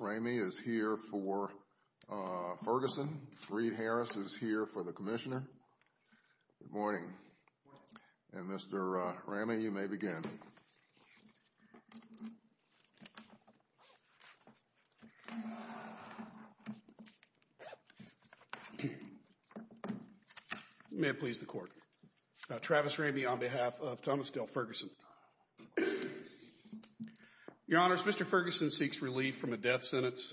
Ramey is here for Ferguson, Reed Harris is here for the Commissioner, good morning, and Mr. Ramey you may begin. May it please the court, Travis Ramey on behalf of Thomas Dale Ferguson, your honors Mr. Ferguson seeks relief from a death sentence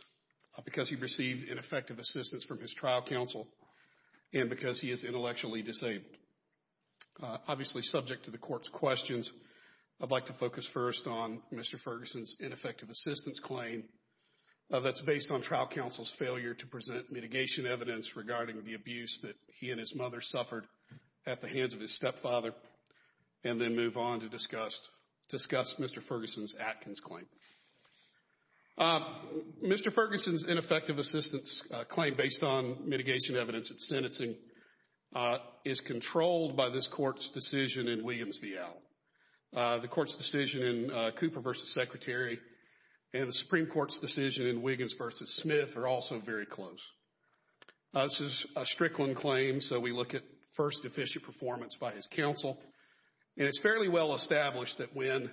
because he received ineffective assistance from his trial counsel and because he is intellectually disabled. Obviously subject to the court's questions, I'd like to focus first on Mr. Ferguson's ineffective assistance claim that's based on trial counsel's failure to present mitigation evidence regarding the abuse that he and his mother suffered at the hands of his stepfather and then move on to discuss Mr. Ferguson's Atkins claim. Mr. Ferguson's ineffective assistance claim based on mitigation evidence at sentencing is controlled by this court's decision in Williams v. Allen. The court's decision in Cooper v. Secretary and the Supreme Court's decision in Wiggins v. Smith are also very close. This is a Strickland claim so we look at first deficient performance by his counsel and it's fairly well established that when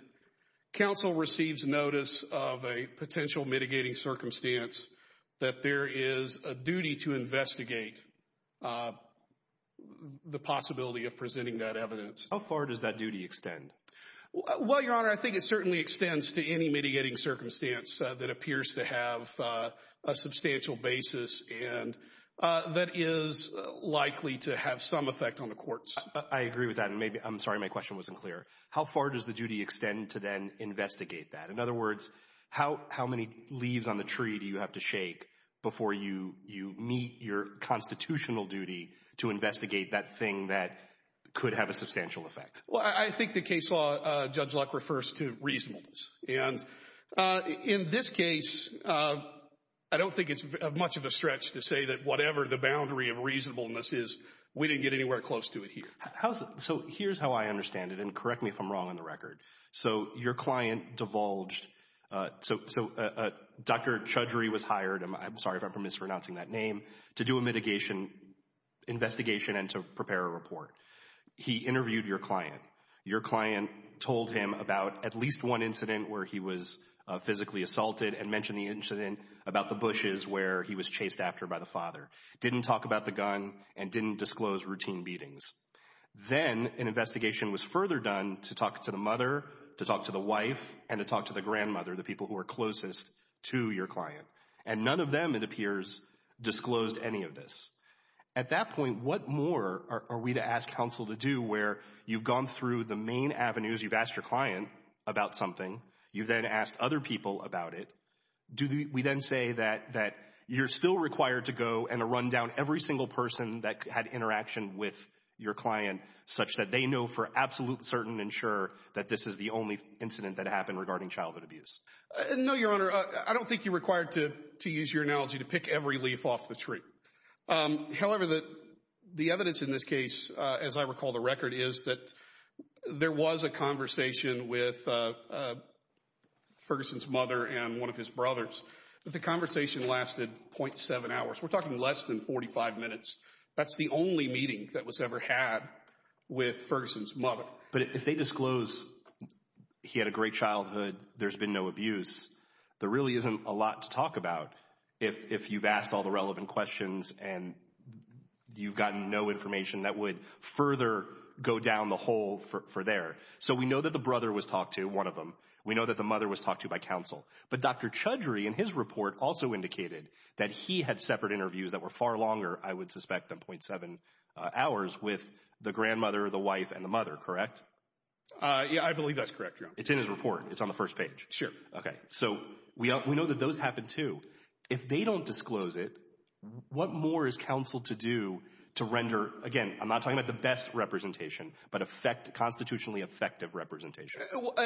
counsel receives notice of a potential mitigating circumstance that there is a duty to investigate the possibility of presenting that evidence. How far does that duty extend? Well, your honor, I think it certainly extends to any mitigating circumstance that appears to have a substantial basis and that is likely to have some effect on the courts. I agree with that. I'm sorry my question wasn't clear. How far does the duty extend to then investigate that? In other words, how many leaves on the tree do you have to shake before you meet your constitutional duty to investigate that thing that could have a substantial effect? Well, I think the case law, Judge Luck, refers to reasonableness and in this case, I don't think it's much of a stretch to say that whatever the boundary of reasonableness is, we didn't get anywhere close to it here. So here's how I understand it and correct me if I'm wrong on the record. So your client divulged, so Dr. Chudry was hired, I'm sorry if I'm mispronouncing that name, to do a mitigation investigation and to prepare a report. He interviewed your client. Your client told him about at least one incident where he was physically assaulted and mentioned the incident about the bushes where he was chased after by the father. Didn't talk about the gun and didn't disclose routine beatings. Then an investigation was further done to talk to the mother, to talk to the wife, and to talk to the grandmother, the people who are closest to your client. And none of them, it appears, disclosed any of this. At that point, what more are we to ask counsel to do where you've gone through the main avenues, you've asked your client about something, you've then asked other people about it. We then say that you're still required to go and to run down every single person that had interaction with your client such that they know for absolute certain and sure that this is the only incident that happened regarding childhood abuse. No, your Honor, I don't think you're required to use your analogy to pick every leaf off the tree. However, the evidence in this case, as I recall the record, is that there was a conversation with Ferguson's mother and one of his brothers. The conversation lasted .7 hours. We're talking less than 45 minutes. That's the only meeting that was ever had with Ferguson's mother. But if they disclose he had a great childhood, there's been no abuse, there really isn't a lot to talk about if you've asked all the relevant questions and you've gotten no information that would further go down the hole for there. So we know that the brother was talked to, one of them, we know that the mother was talked to by counsel. But Dr. Chudry, in his report, also indicated that he had separate interviews that were far longer, I would suspect, than .7 hours with the grandmother, the wife, and the mother, correct? Yeah, I believe that's correct, Your Honor. It's in his report. It's on the first page. Sure. Okay. So we know that those happen, too. If they don't disclose it, what more is counsel to do to render, again, I'm not talking about the best representation, but constitutionally effective representation?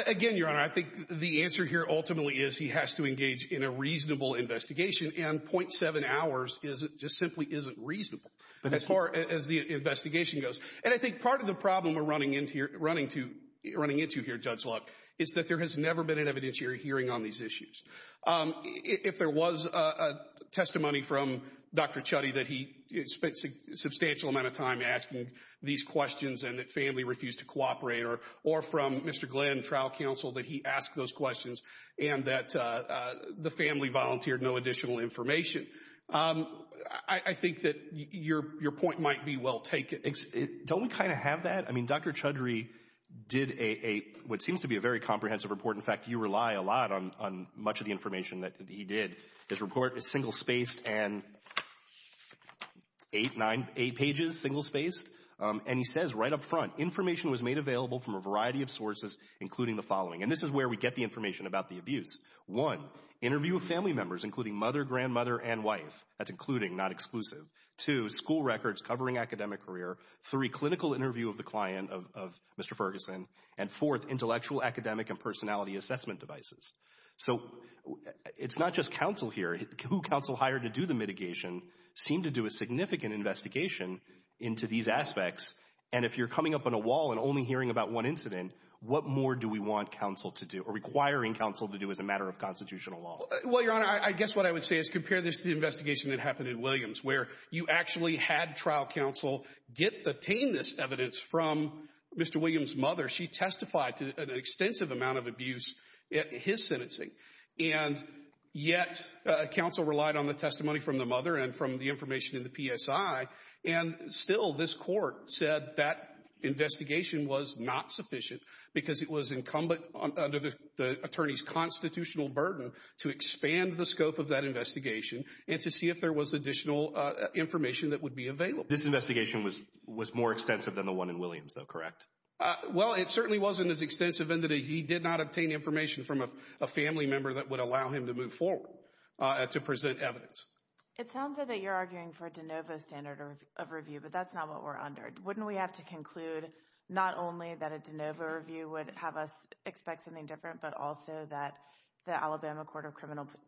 Again, Your Honor, I think the answer here ultimately is he has to engage in a reasonable investigation and .7 hours just simply isn't reasonable as far as the investigation goes. And I think part of the problem we're running into here, Judge Luck, is that there has never been an evidentiary hearing on these issues. If there was a testimony from Dr. Chudry that he spent a substantial amount of time asking these questions and that family refused to cooperate, or from Mr. Glenn, trial counsel, that he asked those questions and that the family volunteered no additional information, I think that your point might be well taken. Don't we kind of have that? I mean, Dr. Chudry did what seems to be a very comprehensive report. In fact, you rely a lot on much of the information that he did. His report is single-spaced and eight pages, single-spaced. And he says right up front, information was made available from a variety of sources, including the following. And this is where we get the information about the abuse. One, interview of family members, including mother, grandmother, and wife. That's including, not exclusive. Two, school records covering academic career. Three, clinical interview of the client of Mr. Ferguson. And fourth, intellectual, academic, and personality assessment devices. So it's not just counsel here. Who counsel hired to do the mitigation seemed to do a significant investigation into these aspects. And if you're coming up on a wall and only hearing about one incident, what more do we want counsel to do, or requiring counsel to do as a matter of constitutional law? Well, Your Honor, I guess what I would say is compare this to the investigation that obtained this evidence from Mr. Williams' mother. She testified to an extensive amount of abuse in his sentencing. And yet, counsel relied on the testimony from the mother and from the information in the PSI. And still, this Court said that investigation was not sufficient because it was incumbent under the attorney's constitutional burden to expand the scope of that investigation and to see if there was additional information that would be available. This investigation was more extensive than the one in Williams, though, correct? Well, it certainly wasn't as extensive in that he did not obtain information from a family member that would allow him to move forward to present evidence. It sounds as though you're arguing for a de novo standard of review, but that's not what we're under. Wouldn't we have to conclude not only that a de novo review would have us expect something different, but also that the Alabama Court of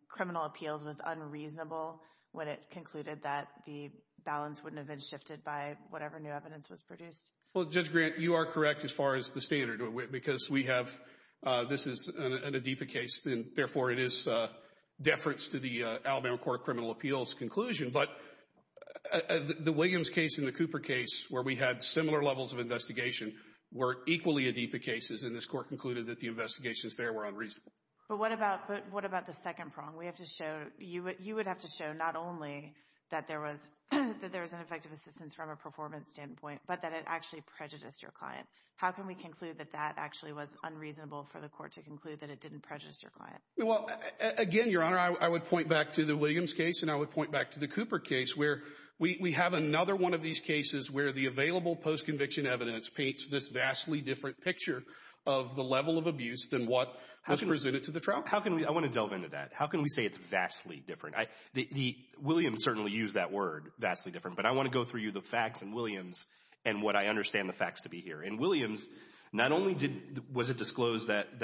Criminal Appeals was unreasonable when it was gifted by whatever new evidence was produced? Well, Judge Grant, you are correct as far as the standard, because we have, this is an ADIPA case, and therefore it is deference to the Alabama Court of Criminal Appeals conclusion. But the Williams case and the Cooper case, where we had similar levels of investigation, were equally ADIPA cases, and this Court concluded that the investigations there were unreasonable. But what about the second prong? We have to show, you would have to show not only that there was an effective assistance from a performance standpoint, but that it actually prejudiced your client. How can we conclude that that actually was unreasonable for the Court to conclude that it didn't prejudice your client? Well, again, Your Honor, I would point back to the Williams case, and I would point back to the Cooper case, where we have another one of these cases where the available postconviction evidence paints this vastly different picture of the level of abuse than what was presented to the trial. How can we, I want to delve into that. How can we say it's vastly different? Williams certainly used that word, vastly different. But I want to go through you the facts in Williams and what I understand the facts to be here. In Williams, not only was it disclosed that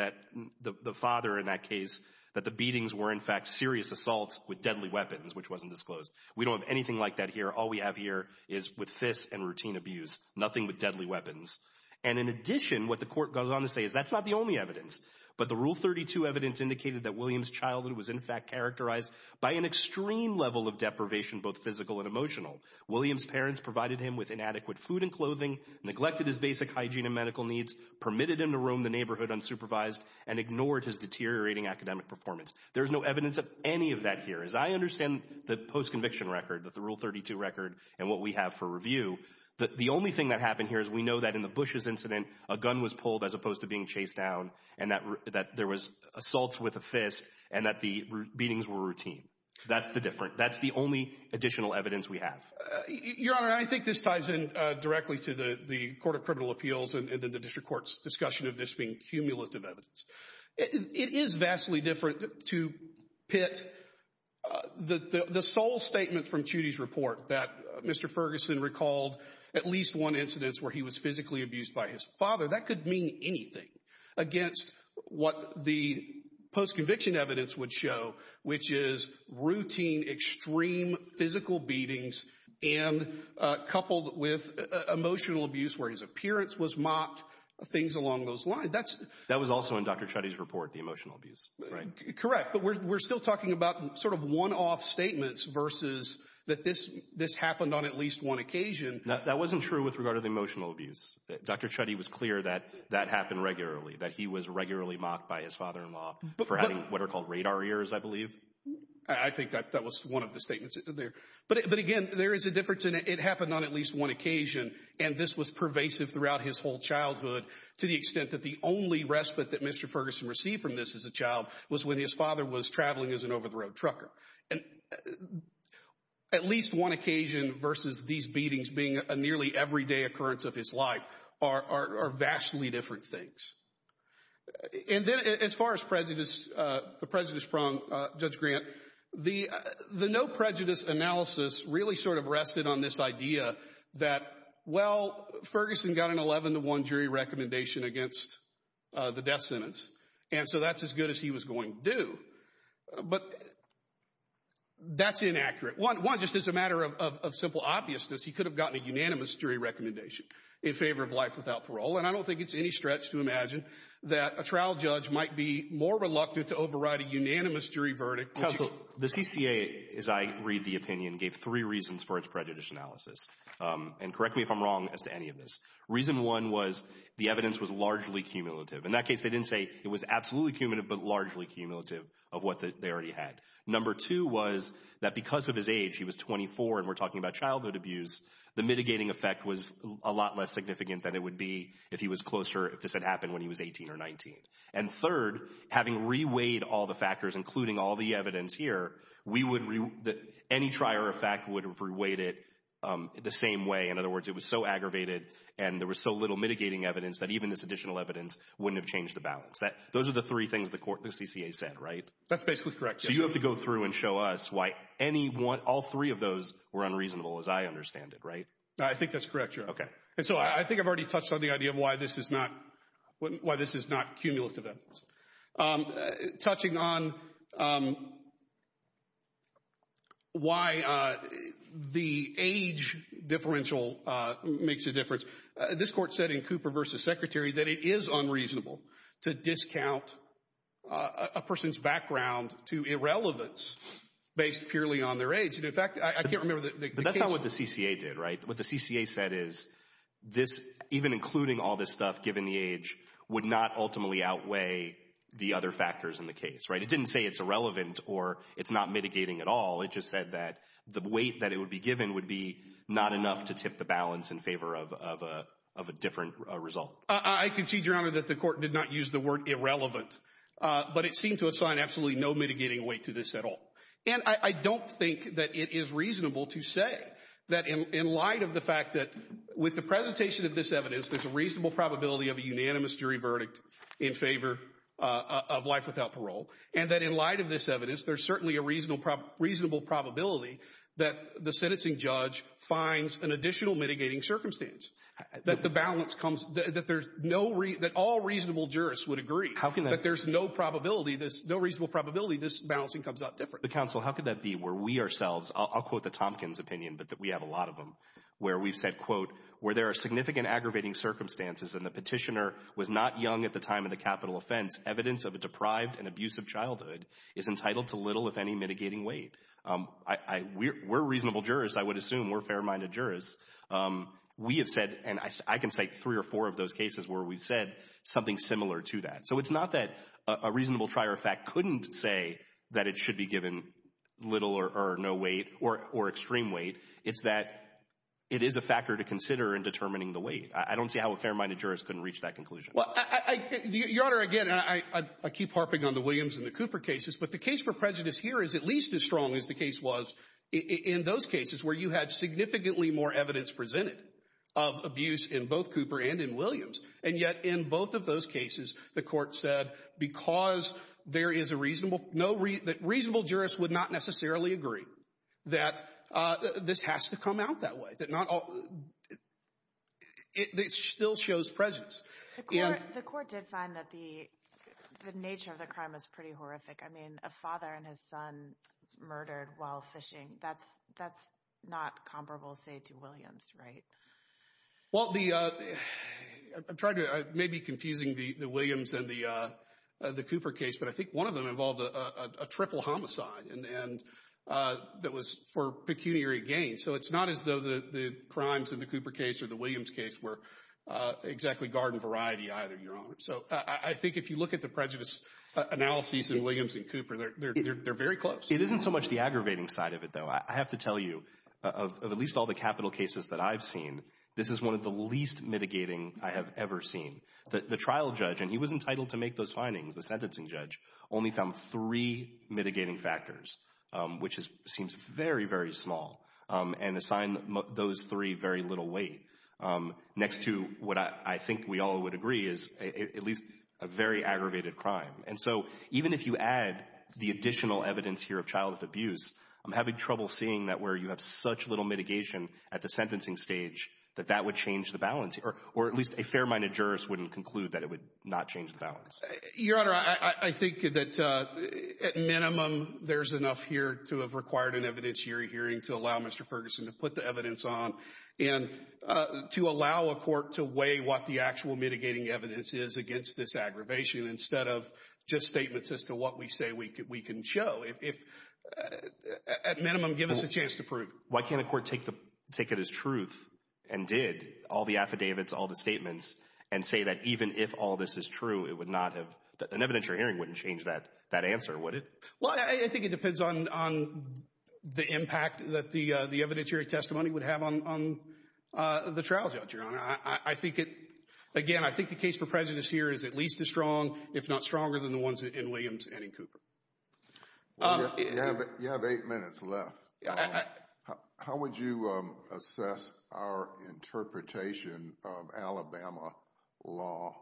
the father in that case, that the beatings were in fact serious assaults with deadly weapons, which wasn't disclosed. We don't have anything like that here. All we have here is with fists and routine abuse, nothing with deadly weapons. And in addition, what the Court goes on to say is that's not the only evidence. But the Rule 32 evidence indicated that Williams' childhood was in fact characterized by an extreme level of deprivation, both physical and emotional. Williams' parents provided him with inadequate food and clothing, neglected his basic hygiene and medical needs, permitted him to roam the neighborhood unsupervised, and ignored his deteriorating academic performance. There's no evidence of any of that here. As I understand the postconviction record, the Rule 32 record, and what we have for review, the only thing that happened here is we know that in the Bushes incident, a gun was pulled as opposed to being chased down, and that there was assaults with a fist, and that the beatings were routine. That's the difference. That's the only additional evidence we have. Your Honor, I think this ties in directly to the Court of Criminal Appeals and the district court's discussion of this being cumulative evidence. It is vastly different to pit the sole statement from Chudy's report that Mr. Ferguson recalled at least one incidence where he was physically abused by his father. That could mean anything against what the postconviction evidence would show, which is routine, extreme physical beatings and coupled with emotional abuse where his appearance was mocked, things along those lines. That was also in Dr. Chudy's report, the emotional abuse, right? Correct. But we're still talking about sort of one-off statements versus that this happened on at least one occasion. That wasn't true with regard to the emotional abuse. Dr. Chudy was clear that that happened regularly, that he was regularly mocked by his father-in-law for having what are called radar ears, I believe. I think that was one of the statements there. But again, there is a difference. It happened on at least one occasion, and this was pervasive throughout his whole childhood to the extent that the only respite that Mr. Ferguson received from this as a child was when his father was traveling as an over-the-road trucker. And at least one occasion versus these beatings being a nearly everyday occurrence of his life are vastly different things. And then as far as prejudice, the prejudice problem, Judge Grant, the no prejudice analysis really sort of rested on this idea that, well, Ferguson got an 11-to-1 jury recommendation against the death sentence, and so that's as good as he was going to do. But that's inaccurate. One, just as a matter of simple obviousness, he could have gotten a unanimous jury recommendation in favor of life without parole, and I don't think it's any stretch to imagine that a trial judge might be more reluctant to override a unanimous jury verdict. Counsel, the CCA, as I read the opinion, gave three reasons for its prejudice analysis. And correct me if I'm wrong as to any of this. Reason one was the evidence was largely cumulative. In that case, they didn't say it was absolutely cumulative, but largely cumulative of what they already had. Number two was that because of his age, he was 24 and we're talking about childhood abuse, the mitigating effect was a lot less significant than it would be if he was closer, if this had happened when he was 18 or 19. And third, having reweighed all the factors, including all the evidence here, we would re—any trier effect would have reweighed it the same way. In other words, it was so aggravated and there was so little mitigating evidence that even this additional evidence wouldn't have changed the balance. Those are the three things the court, the CCA said, right? That's basically correct. So you have to go through and show us why any one, all three of those were unreasonable as I understand it, right? I think that's correct, Your Honor. Okay. And so I think I've already touched on the idea of why this is not, why this is not cumulative evidence. Touching on why the age differential makes a difference. This court said in Cooper v. Secretary that it is unreasonable to discount a person's background to irrelevance based purely on their age. And in fact, I can't remember the case— But that's not what the CCA did, right? What the CCA said is this, even including all this stuff, given the age, would not ultimately outweigh the other factors in the case, right? It didn't say it's irrelevant or it's not mitigating at all. It just said that the weight that it would be given would be not enough to tip the balance in favor of a different result. I concede, Your Honor, that the court did not use the word irrelevant, but it seemed to assign absolutely no mitigating weight to this at all. And I don't think that it is reasonable to say that in light of the fact that with the presentation of this evidence, there's a reasonable probability of a unanimous jury verdict in favor of life without parole, and that in light of this evidence, there's certainly a reasonable probability that the sentencing judge finds an additional mitigating circumstance, that the balance comes—that there's no—that all reasonable jurists would agree that there's no probability, no reasonable probability this balancing comes out different. But counsel, how could that be where we ourselves—I'll quote the Tompkins opinion, but we have a lot of them—where we've said, quote, where there are significant aggravating circumstances and the petitioner was not young at the time of the capital offense, evidence of a deprived and abusive childhood is entitled to little, if any, mitigating weight. We're reasonable jurists. I would assume we're fair-minded jurists. We have said—and I can cite three or four of those cases where we've said something similar to that. So it's not that a reasonable trier of fact couldn't say that it should be given little or no weight or extreme weight. It's that it is a factor to consider in determining the weight. I don't see how a fair-minded jurist couldn't reach that conclusion. Well, Your Honor, again, I keep harping on the Williams and the Cooper cases. But the case for prejudice here is at least as strong as the case was in those cases where you had significantly more evidence presented of abuse in both Cooper and in Williams. And yet, in both of those cases, the Court said because there is a reasonable no—reasonable jurists would not necessarily agree that this has to come out that way, that not all—it still shows prejudice. The Court did find that the nature of the crime was pretty horrific. I mean, a father and his son murdered while fishing. That's not comparable, say, to Williams, right? Well, the—I'm trying to—I may be confusing the Williams and the Cooper case, but I think one of them involved a triple homicide and that was for pecuniary gain. So it's not as though the crimes in the Cooper case or the Williams case were exactly garden variety either, Your Honor. So I think if you look at the prejudice analyses in Williams and Cooper, they're very close. It isn't so much the aggravating side of it, though. I have to tell you, of at least all the capital cases that I've seen, this is one of the least mitigating I have ever seen. The trial judge—and he was entitled to make those findings, the sentencing judge—only found three mitigating factors, which seems very, very small, and assigned those three very little weight, next to what I think we all would agree is at least a very aggravated crime. And so even if you add the additional evidence here of childhood abuse, I'm having trouble seeing that where you have such little mitigation at the sentencing stage that that would change the balance, or at least a fair-minded jurist wouldn't conclude that it would not change the balance. Your Honor, I think that, at minimum, there's enough here to have required an evidence on, and to allow a court to weigh what the actual mitigating evidence is against this aggravation, instead of just statements as to what we say we can show. If—at minimum, give us a chance to prove. Why can't a court take it as truth and did all the affidavits, all the statements, and say that even if all this is true, it would not have—an evidentiary hearing wouldn't change that answer, would it? Well, I think it depends on the impact that the evidentiary testimony would have on the trial judge, Your Honor. I think it—again, I think the case for prejudice here is at least as strong, if not stronger, than the ones in Williams and in Cooper. You have eight minutes left. How would you assess our interpretation of Alabama law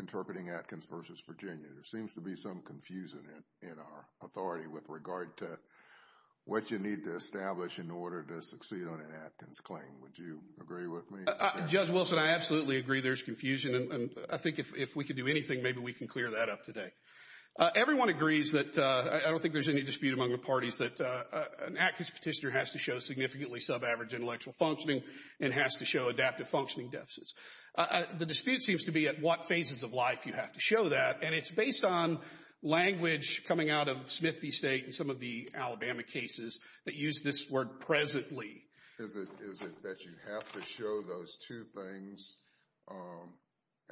interpreting Atkins versus Virginia? There seems to be some confusion in our authority with regard to what you need to establish in order to succeed on an Atkins claim. Would you agree with me? Judge Wilson, I absolutely agree there's confusion, and I think if we could do anything, maybe we can clear that up today. Everyone agrees that—I don't think there's any dispute among the parties that an Atkins petitioner has to show significantly sub-average intellectual functioning and has to show adaptive functioning deficits. The dispute seems to be at what phases of life you have to show that, and it's based on language coming out of Smith v. State and some of the Alabama cases that use this word presently. Is it that you have to show those two things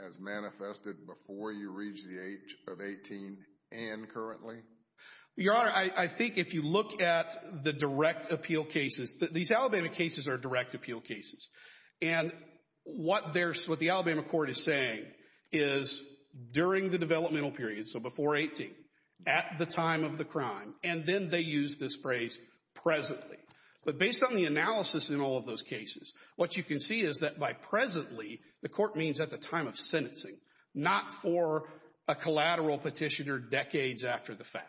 as manifested before you reach the age of 18 and currently? Your Honor, I think if you look at the direct appeal cases—these Alabama cases are direct appeal cases—and what the Alabama court is saying is during the developmental period, so before 18, at the time of the crime, and then they use this phrase presently. But based on the analysis in all of those cases, what you can see is that by presently, the court means at the time of sentencing, not for a collateral petitioner decades after the fact.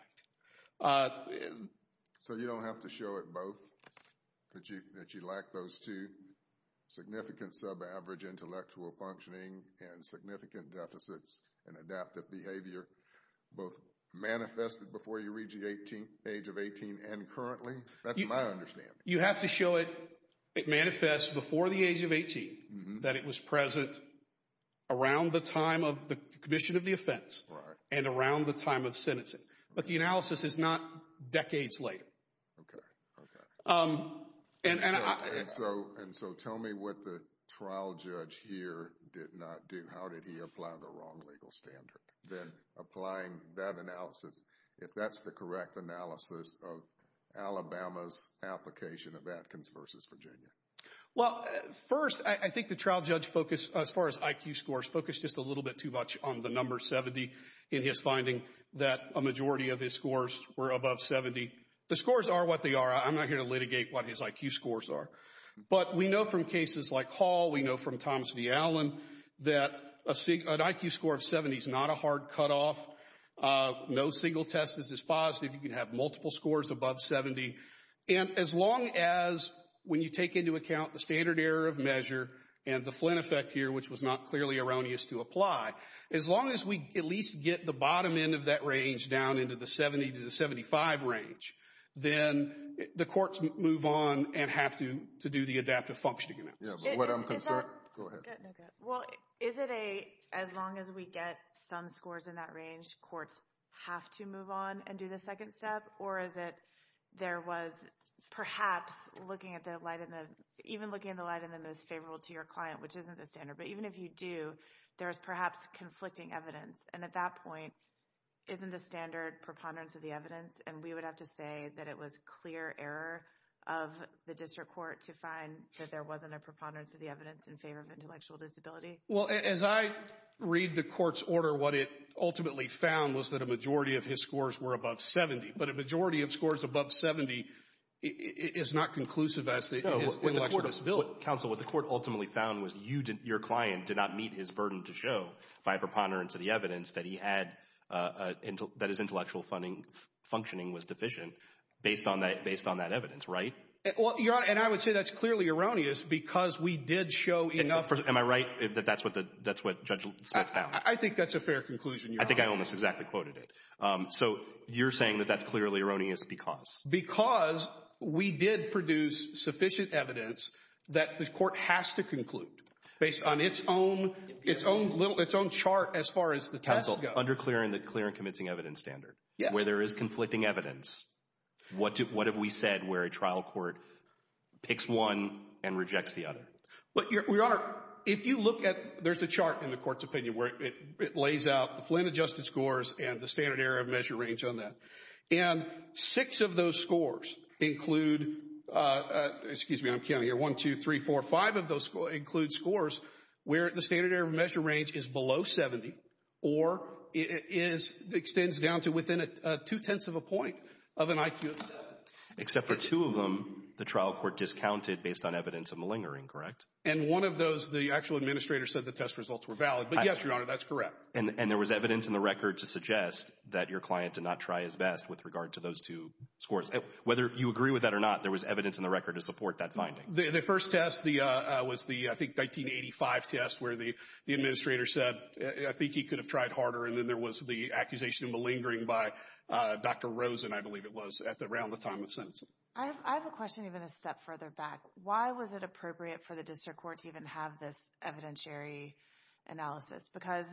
So you don't have to show it both, that you lack those two, significant sub-average intellectual functioning and significant deficits in adaptive behavior, both manifested before you reach the age of 18 and currently? That's my understanding. You have to show it manifests before the age of 18, that it was present around the time of the commission of the offense and around the time of sentencing. But the analysis is not decades later. Okay. Okay. And so, tell me what the trial judge here did not do. How did he apply the wrong legal standard? Then applying that analysis, if that's the correct analysis of Alabama's application of Atkins v. Virginia? Well, first, I think the trial judge focused, as far as IQ scores, focused just a little bit too much on the number 70 in his finding that a majority of his scores were above 70. The scores are what they are. I'm not here to litigate what his IQ scores are. But we know from cases like Hall, we know from Thomas v. Allen, that an IQ score of 70 is not a hard cutoff. No single test is as positive. You can have multiple scores above 70. And as long as, when you take into account the standard error of measure and the Flynn effect here, which was not clearly erroneous to apply, as long as we at least get the bottom end of that range down into the 70 to the 75 range, then the courts move on and have to do the adaptive functioning analysis. Is that? Go ahead. No, go ahead. Well, is it a, as long as we get some scores in that range, courts have to move on and do the second step? Or is it, there was perhaps looking at the light in the, even looking at the light in the most favorable to your client, which isn't the standard, but even if you do, there's perhaps conflicting evidence. And at that point, isn't the standard preponderance of the evidence? And we would have to say that it was clear error of the district court to find that there wasn't a preponderance of the evidence in favor of intellectual disability? Well, as I read the court's order, what it ultimately found was that a majority of his scores were above 70. Counsel, what the court ultimately found was you, your client did not meet his burden to show by preponderance of the evidence that he had, that his intellectual functioning was deficient based on that, based on that evidence, right? And I would say that's clearly erroneous because we did show enough. Am I right that that's what the, that's what Judge Smith found? I think that's a fair conclusion. I think I almost exactly quoted it. So you're saying that that's clearly erroneous because? Because we did produce sufficient evidence that the court has to conclude based on its own, its own little, its own chart as far as the test goes. Counsel, under clearing the clear and convincing evidence standard, where there is conflicting evidence, what do, what have we said where a trial court picks one and rejects the other? But Your Honor, if you look at, there's a chart in the court's opinion where it lays out the Flynn adjusted scores and the standard error of measure range on that. And six of those scores include, excuse me, I'm counting here, one, two, three, four, five of those include scores where the standard error of measure range is below 70 or it is, extends down to within two-tenths of a point of an IQ of seven. Except for two of them, the trial court discounted based on evidence of malingering, correct? And one of those, the actual administrator said the test results were valid. But yes, Your Honor, that's correct. And there was evidence in the record to suggest that your client did not try his best with regard to those two scores. Whether you agree with that or not, there was evidence in the record to support that finding. The first test, the, was the, I think, 1985 test where the administrator said, I think he could have tried harder. And then there was the accusation of malingering by Dr. Rosen, I believe it was, at around the time of sentencing. I have a question even a step further back. Why was it appropriate for the district court to even have this evidentiary analysis? Because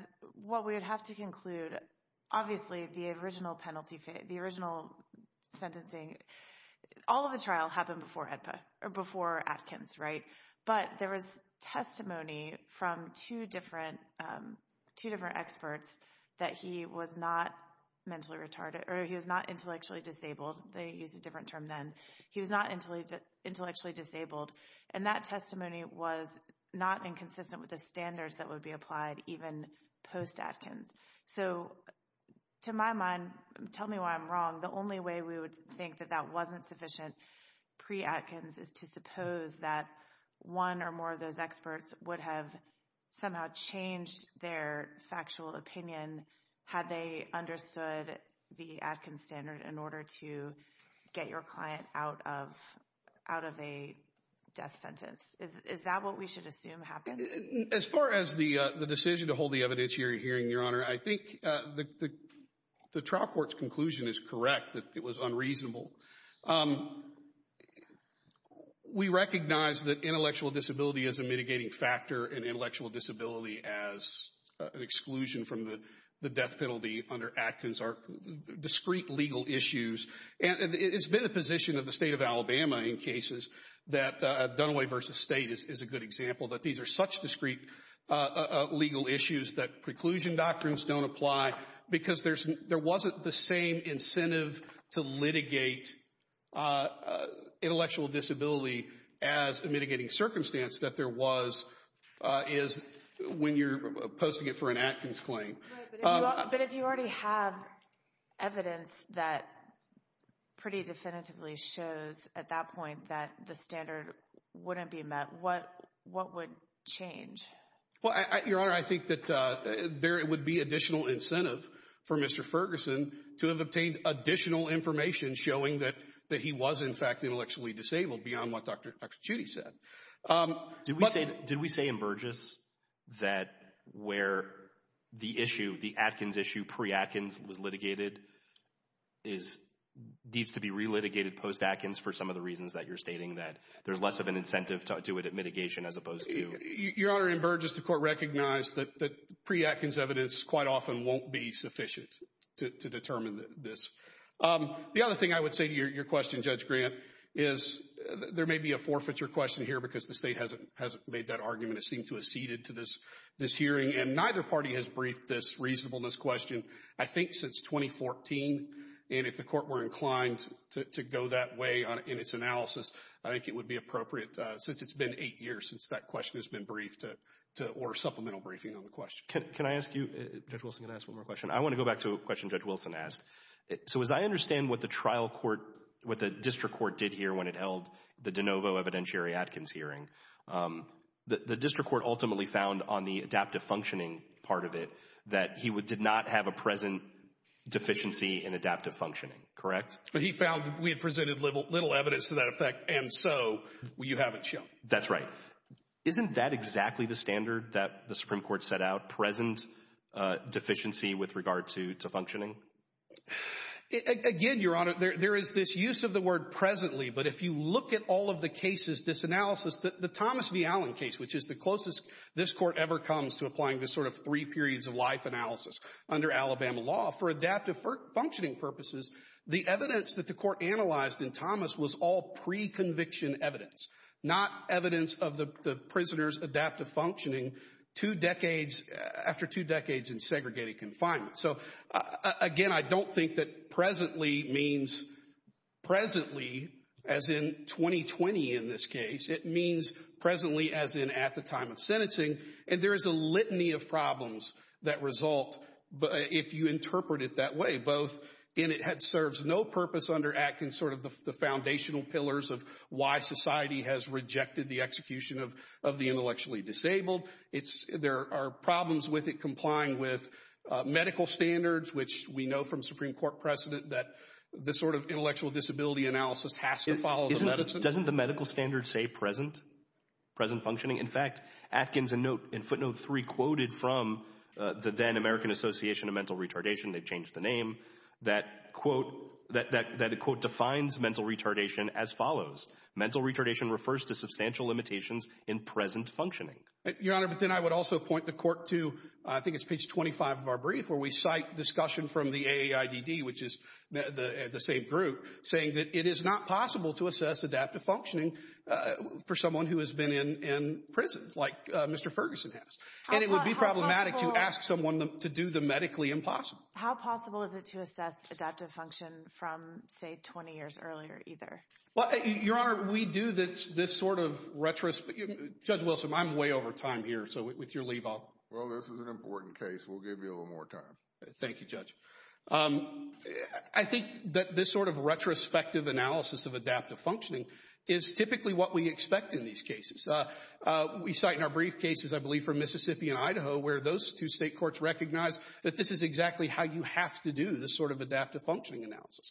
what we would have to conclude, obviously, the original penalty, the original sentencing, all of the trial happened before HEDPA, or before Atkins, right? But there was testimony from two different, two different experts that he was not mentally retarded or he was not intellectually disabled. They used a different term then. He was not intellectually disabled. And that testimony was not inconsistent with the standards that would be applied even post-Atkins. So to my mind, tell me why I'm wrong, the only way we would think that that wasn't sufficient pre-Atkins is to suppose that one or more of those experts would have somehow changed their factual opinion had they understood the Atkins standard in order to get your client out of a death sentence. Is that what we should assume happened? As far as the decision to hold the evidentiary hearing, Your Honor, I think the trial court's conclusion is correct that it was unreasonable. We recognize that intellectual disability is a mitigating factor and intellectual disability as an exclusion from the death penalty under Atkins are discrete legal issues. And it's been the position of the state of Alabama in cases that Dunaway v. State is a good example that these are such discrete legal issues that preclusion doctrines don't apply because there wasn't the same incentive to litigate intellectual disability as a mitigating circumstance that there was is when you're posting it for an Atkins claim. But if you already have evidence that pretty definitively shows at that point that the standard wouldn't be met, what would change? Well, Your Honor, I think that there would be additional incentive for Mr. Ferguson to have obtained additional information showing that he was in fact intellectually disabled beyond what Dr. Chudy said. Did we say in Burgess that where the Atkins issue pre-Atkins was litigated needs to be re-litigated post-Atkins for some of the reasons that you're stating that there's less of an incentive to do it at mitigation as opposed to... Your Honor, in Burgess, the court recognized that pre-Atkins evidence quite often won't be sufficient to determine this. The other thing I would say to your question, Judge Grant, is there may be a forfeiture question here because the state hasn't made that argument. It seemed to have ceded to this hearing. And neither party has briefed this reasonableness question, I think, since 2014. And if the court were inclined to go that way in its analysis, I think it would be appropriate since it's been eight years since that question has been briefed to order supplemental briefing on the question. Can I ask you, Judge Wilson, can I ask one more question? I want to go back to a question Judge Wilson asked. So as I understand what the trial court, what the district court did here when it held the pre-Atkins hearing, the district court ultimately found on the adaptive functioning part of it that he did not have a present deficiency in adaptive functioning, correct? But he found we had presented little evidence to that effect and so you haven't shown. That's right. Isn't that exactly the standard that the Supreme Court set out, present deficiency with regard to functioning? Again, Your Honor, there is this use of the word presently, but if you look at all of the cases, this analysis, the Thomas v. Allen case, which is the closest this Court ever comes to applying this sort of three periods of life analysis under Alabama law for adaptive functioning purposes, the evidence that the Court analyzed in Thomas was all pre-conviction evidence, not evidence of the prisoner's adaptive functioning two decades, after two decades in segregated confinement. So, again, I don't think that presently means presently, as in 2020 in this case. It means presently as in at the time of sentencing. And there is a litany of problems that result if you interpret it that way, both in it serves no purpose under Atkins, sort of the foundational pillars of why society has rejected the execution of the intellectually disabled. There are problems with it complying with medical standards, which we know from Supreme Court precedent that this sort of intellectual disability analysis has to follow the medicine. Doesn't the medical standard say present? Present functioning? In fact, Atkins in footnote three quoted from the then American Association of Mental Retardation, they've changed the name, that quote, that quote defines mental retardation as follows. Mental retardation refers to substantial limitations in present functioning. Your Honor, but then I would also point the court to, I think it's page 25 of our brief where we cite discussion from the AAIDD, which is the same group, saying that it is not possible to assess adaptive functioning for someone who has been in prison, like Mr. Ferguson has. And it would be problematic to ask someone to do the medically impossible. How possible is it to assess adaptive function from, say, 20 years earlier either? Well, Your Honor, we do this sort of retrospective, Judge Wilson, I'm way over time here, so with your leave, I'll. Well, this is an important case, we'll give you a little more time. Thank you, Judge. I think that this sort of retrospective analysis of adaptive functioning is typically what we expect in these cases. We cite in our brief cases, I believe from Mississippi and Idaho, where those two state courts recognize that this is exactly how you have to do this sort of adaptive functioning analysis.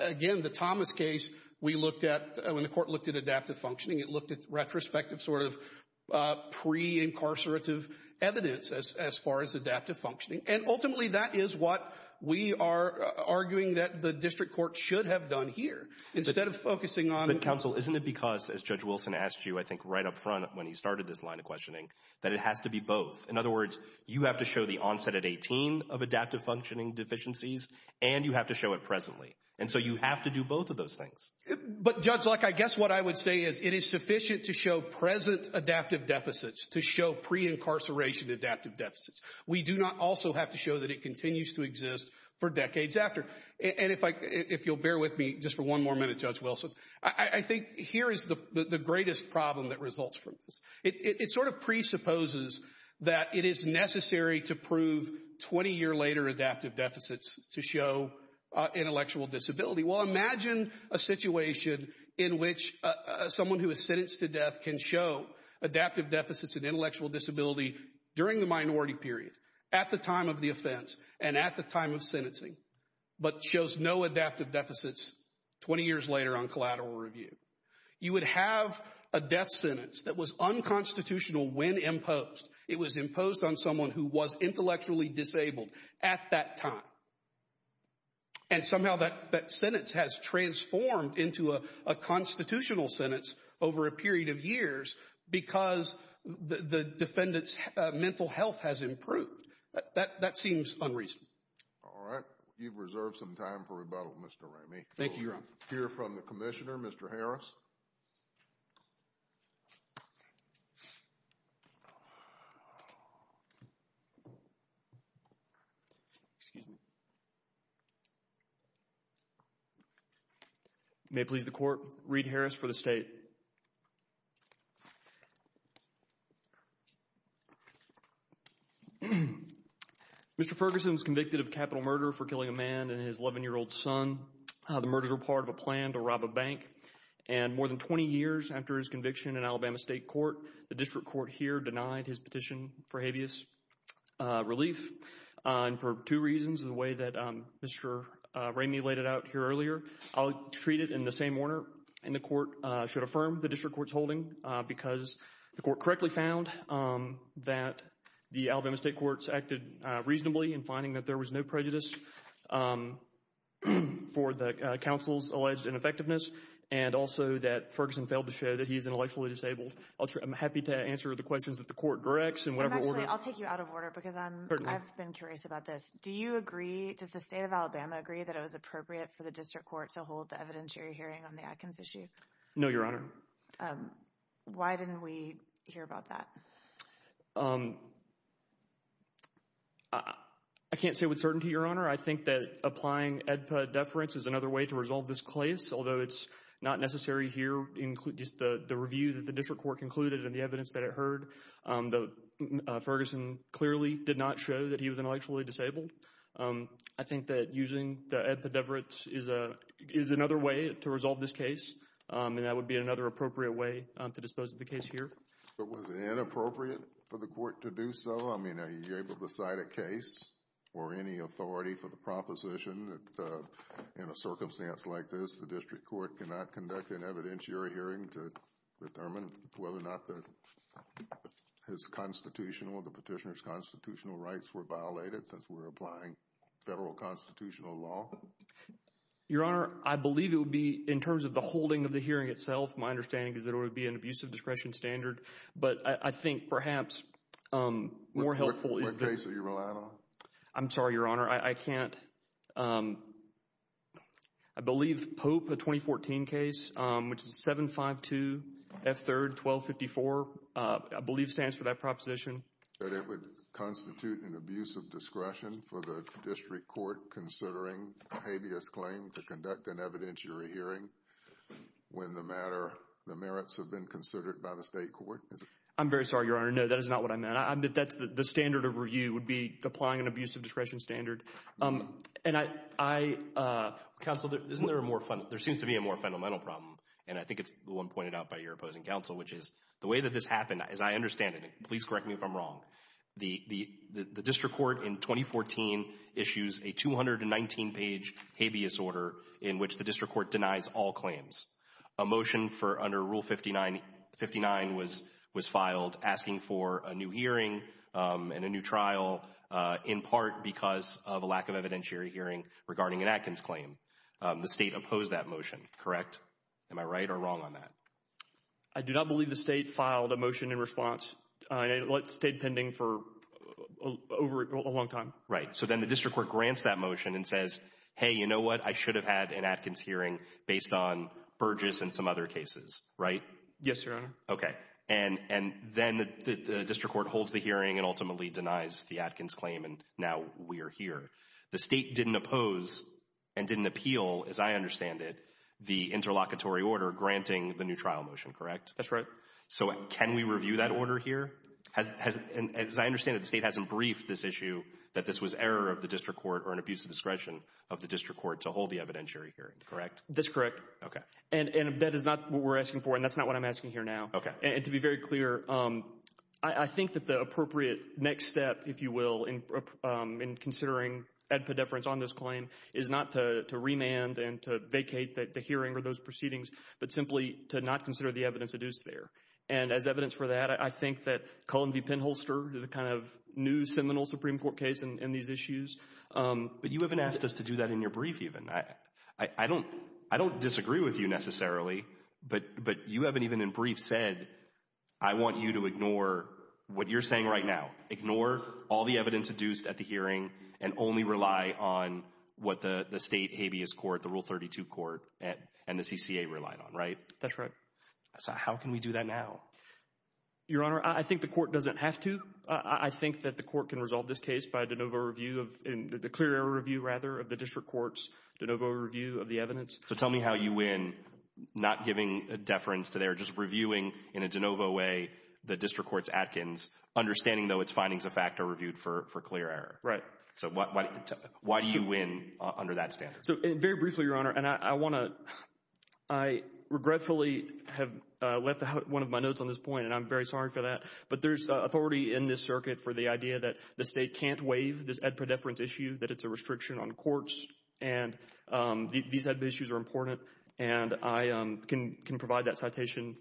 Again, the Thomas case, we looked at, when the court looked at adaptive functioning, it looked at retrospective sort of pre-incarcerative evidence as far as adaptive functioning. And ultimately, that is what we are arguing that the district court should have done here. Instead of focusing on- But counsel, isn't it because, as Judge Wilson asked you, I think right up front when he started this line of questioning, that it has to be both? In other words, you have to show the onset at 18 of adaptive functioning deficiencies, and you have to show it presently. And so you have to do both of those things. But Judge Luck, I guess what I would say is it is sufficient to show present adaptive deficits to show pre-incarceration adaptive deficits. We do not also have to show that it continues to exist for decades after. And if you'll bear with me just for one more minute, Judge Wilson, I think here is the greatest problem that results from this. It sort of presupposes that it is necessary to prove 20 year later adaptive deficits to show intellectual disability. Well, imagine a situation in which someone who is sentenced to death can show adaptive deficits in intellectual disability during the minority period, at the time of the offense, and at the time of sentencing, but shows no adaptive deficits 20 years later on collateral review. You would have a death sentence that was unconstitutional when imposed. It was imposed on someone who was intellectually disabled at that time. And somehow that sentence has transformed into a constitutional sentence over a period of years because the defendant's mental health has improved. That seems unreasonable. All right. You've reserved some time for rebuttal, Mr. Ramey. Thank you, Your Honor. We'll hear from the Commissioner, Mr. Harris. May it please the Court, Reed Harris for the State. Mr. Ferguson was convicted of capital murder for killing a man and his 11-year-old son. The murder part of a plan to rob a bank. And more than 20 years after his conviction in Alabama State Court, the District Court here denied his petition for habeas relief for two reasons, the way that Mr. Ramey laid it out here earlier. I'll treat it in the same order, and the Court should affirm the District Court's holding because the Court correctly found that the Alabama State Courts acted reasonably in finding that there was no prejudice for the counsel's alleged ineffectiveness and also that Ferguson failed to show that he is intellectually disabled. I'm happy to answer the questions that the Court directs in whatever order. Actually, I'll take you out of order because I've been curious about this. Do you agree, does the State of Alabama agree that it was appropriate for the District Court to hold the evidentiary hearing on the Atkins issue? No, Your Honor. Why didn't we hear about that? I can't say with certainty, Your Honor. I think that applying AEDPA deference is another way to resolve this case, although it's not necessary here. Just the review that the District Court concluded and the evidence that it heard, Ferguson clearly did not show that he was intellectually disabled. I think that using the AEDPA deference is another way to resolve this case, and that would be another appropriate way to dispose of the case here. But was it inappropriate for the Court to do so? I mean, are you able to cite a case or any authority for the proposition that in a circumstance like this, the District Court cannot conduct an evidentiary hearing to determine whether or not the Petitioner's constitutional rights were violated since we're applying federal constitutional law? Your Honor, I believe it would be in terms of the holding of the hearing itself. My understanding is that it would be an abusive discretion standard, but I think perhaps more helpful is that... What case are you relying on? I'm sorry, Your Honor. I can't... I believe Pope, a 2014 case, which is 752 F. 3rd, 1254, I believe stands for that proposition. That it would constitute an abusive discretion for the District Court considering a habeas claim to conduct an evidentiary hearing when the matter... the merits have been considered by the State Court. Is it? I'm very sorry, Your Honor. No, that is not what I meant. That's... the standard of review would be applying an abusive discretion standard, and I... Counsel, isn't there a more... there seems to be a more fundamental problem, and I think it's the one pointed out by your opposing counsel, which is the way that this happened, as I understand it, and please correct me if I'm wrong, the District Court in 2014 issues a 219-page habeas order in which the District Court denies all claims. A motion for under Rule 59 was filed asking for a new hearing and a new trial, in part because of a lack of evidentiary hearing regarding an Atkins claim. The State opposed that motion, correct? Am I right or wrong on that? I do not believe the State filed a motion in response. It stayed pending for over a long time. Right. So then the District Court grants that motion and says, hey, you know what, I should have had an Atkins hearing based on Burgess and some other cases, right? Yes, Your Honor. Okay. And then the District Court holds the hearing and ultimately denies the Atkins claim, and now we are here. The State didn't oppose and didn't appeal, as I understand it, the interlocutory order granting the new trial motion, correct? That's right. So can we review that order here? As I understand it, the State hasn't briefed this issue that this was error of the District Court or an abuse of discretion of the District Court to hold the evidentiary hearing, correct? That's correct. Okay. And that is not what we're asking for, and that's not what I'm asking here now. Okay. And to be very clear, I think that the appropriate next step, if you will, in considering ad podeferens on this claim is not to remand and to vacate the hearing or those proceedings, but simply to not consider the evidence that is there. And as evidence for that, I think that Cohen v. Penholster, the kind of new seminal Supreme Court case in these issues, but you haven't asked us to do that in your brief even. I don't disagree with you necessarily, but you haven't even in brief said, I want you to ignore what you're saying right now, ignore all the evidence adduced at the hearing and only rely on what the State habeas court, the Rule 32 court, and the CCA relied on, right? That's right. So how can we do that now? Your Honor, I think the court doesn't have to. I think that the court can resolve this case by a de novo review of, a clear error review rather of the district court's de novo review of the evidence. So tell me how you win not giving a deference to there, just reviewing in a de novo way the district court's Atkins, understanding though its findings of fact are reviewed for clear error. Right. So why do you win under that standard? So very briefly, Your Honor, and I want to, I regretfully have left out one of my notes on this point and I'm very sorry for that, but there's authority in this circuit for the idea that the State can't waive this ad pro deference issue, that it's a restriction on courts and these issues are important and I can provide that citation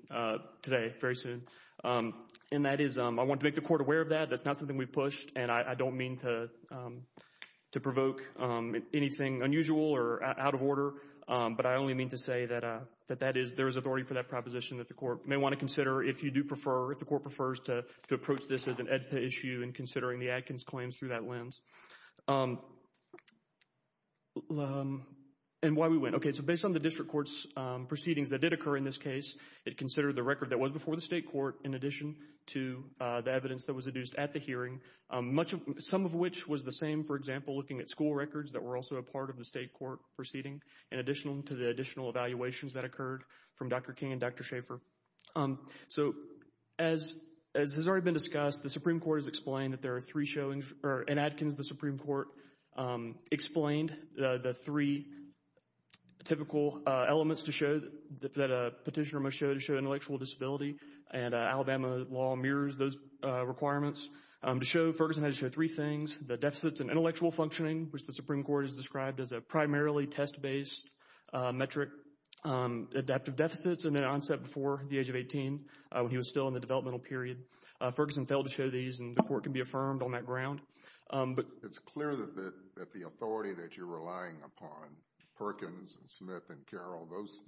today, very soon. And that is, I want to make the court aware of that, that's not something we've pushed and I don't mean to provoke anything unusual or out of order, but I only mean to say that that is, there is authority for that proposition that the court may want to consider if you do prefer, if the court prefers to approach this as an ADPA issue and considering the Atkins claims through that lens. And why we win. Okay, so based on the district court's proceedings that did occur in this case, it considered the record that was before the State court in addition to the evidence that was adduced at the hearing, some of which was the same, for example, looking at school records that were also a part of the State court proceeding in addition to the additional evaluations that occurred from Dr. King and Dr. Schaefer. So as has already been discussed, the Supreme Court has explained that there are three showings, in Atkins the Supreme Court explained the three typical elements to show that a petitioner should show intellectual disability and Alabama law mirrors those requirements to show Ferguson has shown three things, the deficits in intellectual functioning, which the Supreme Court has described as a primarily test-based metric, adaptive deficits and then onset before the age of 18 when he was still in the developmental period. Ferguson failed to show these and the court can be affirmed on that ground. It's clear that the authority that you're relying upon, Perkins and Smith and Carroll, those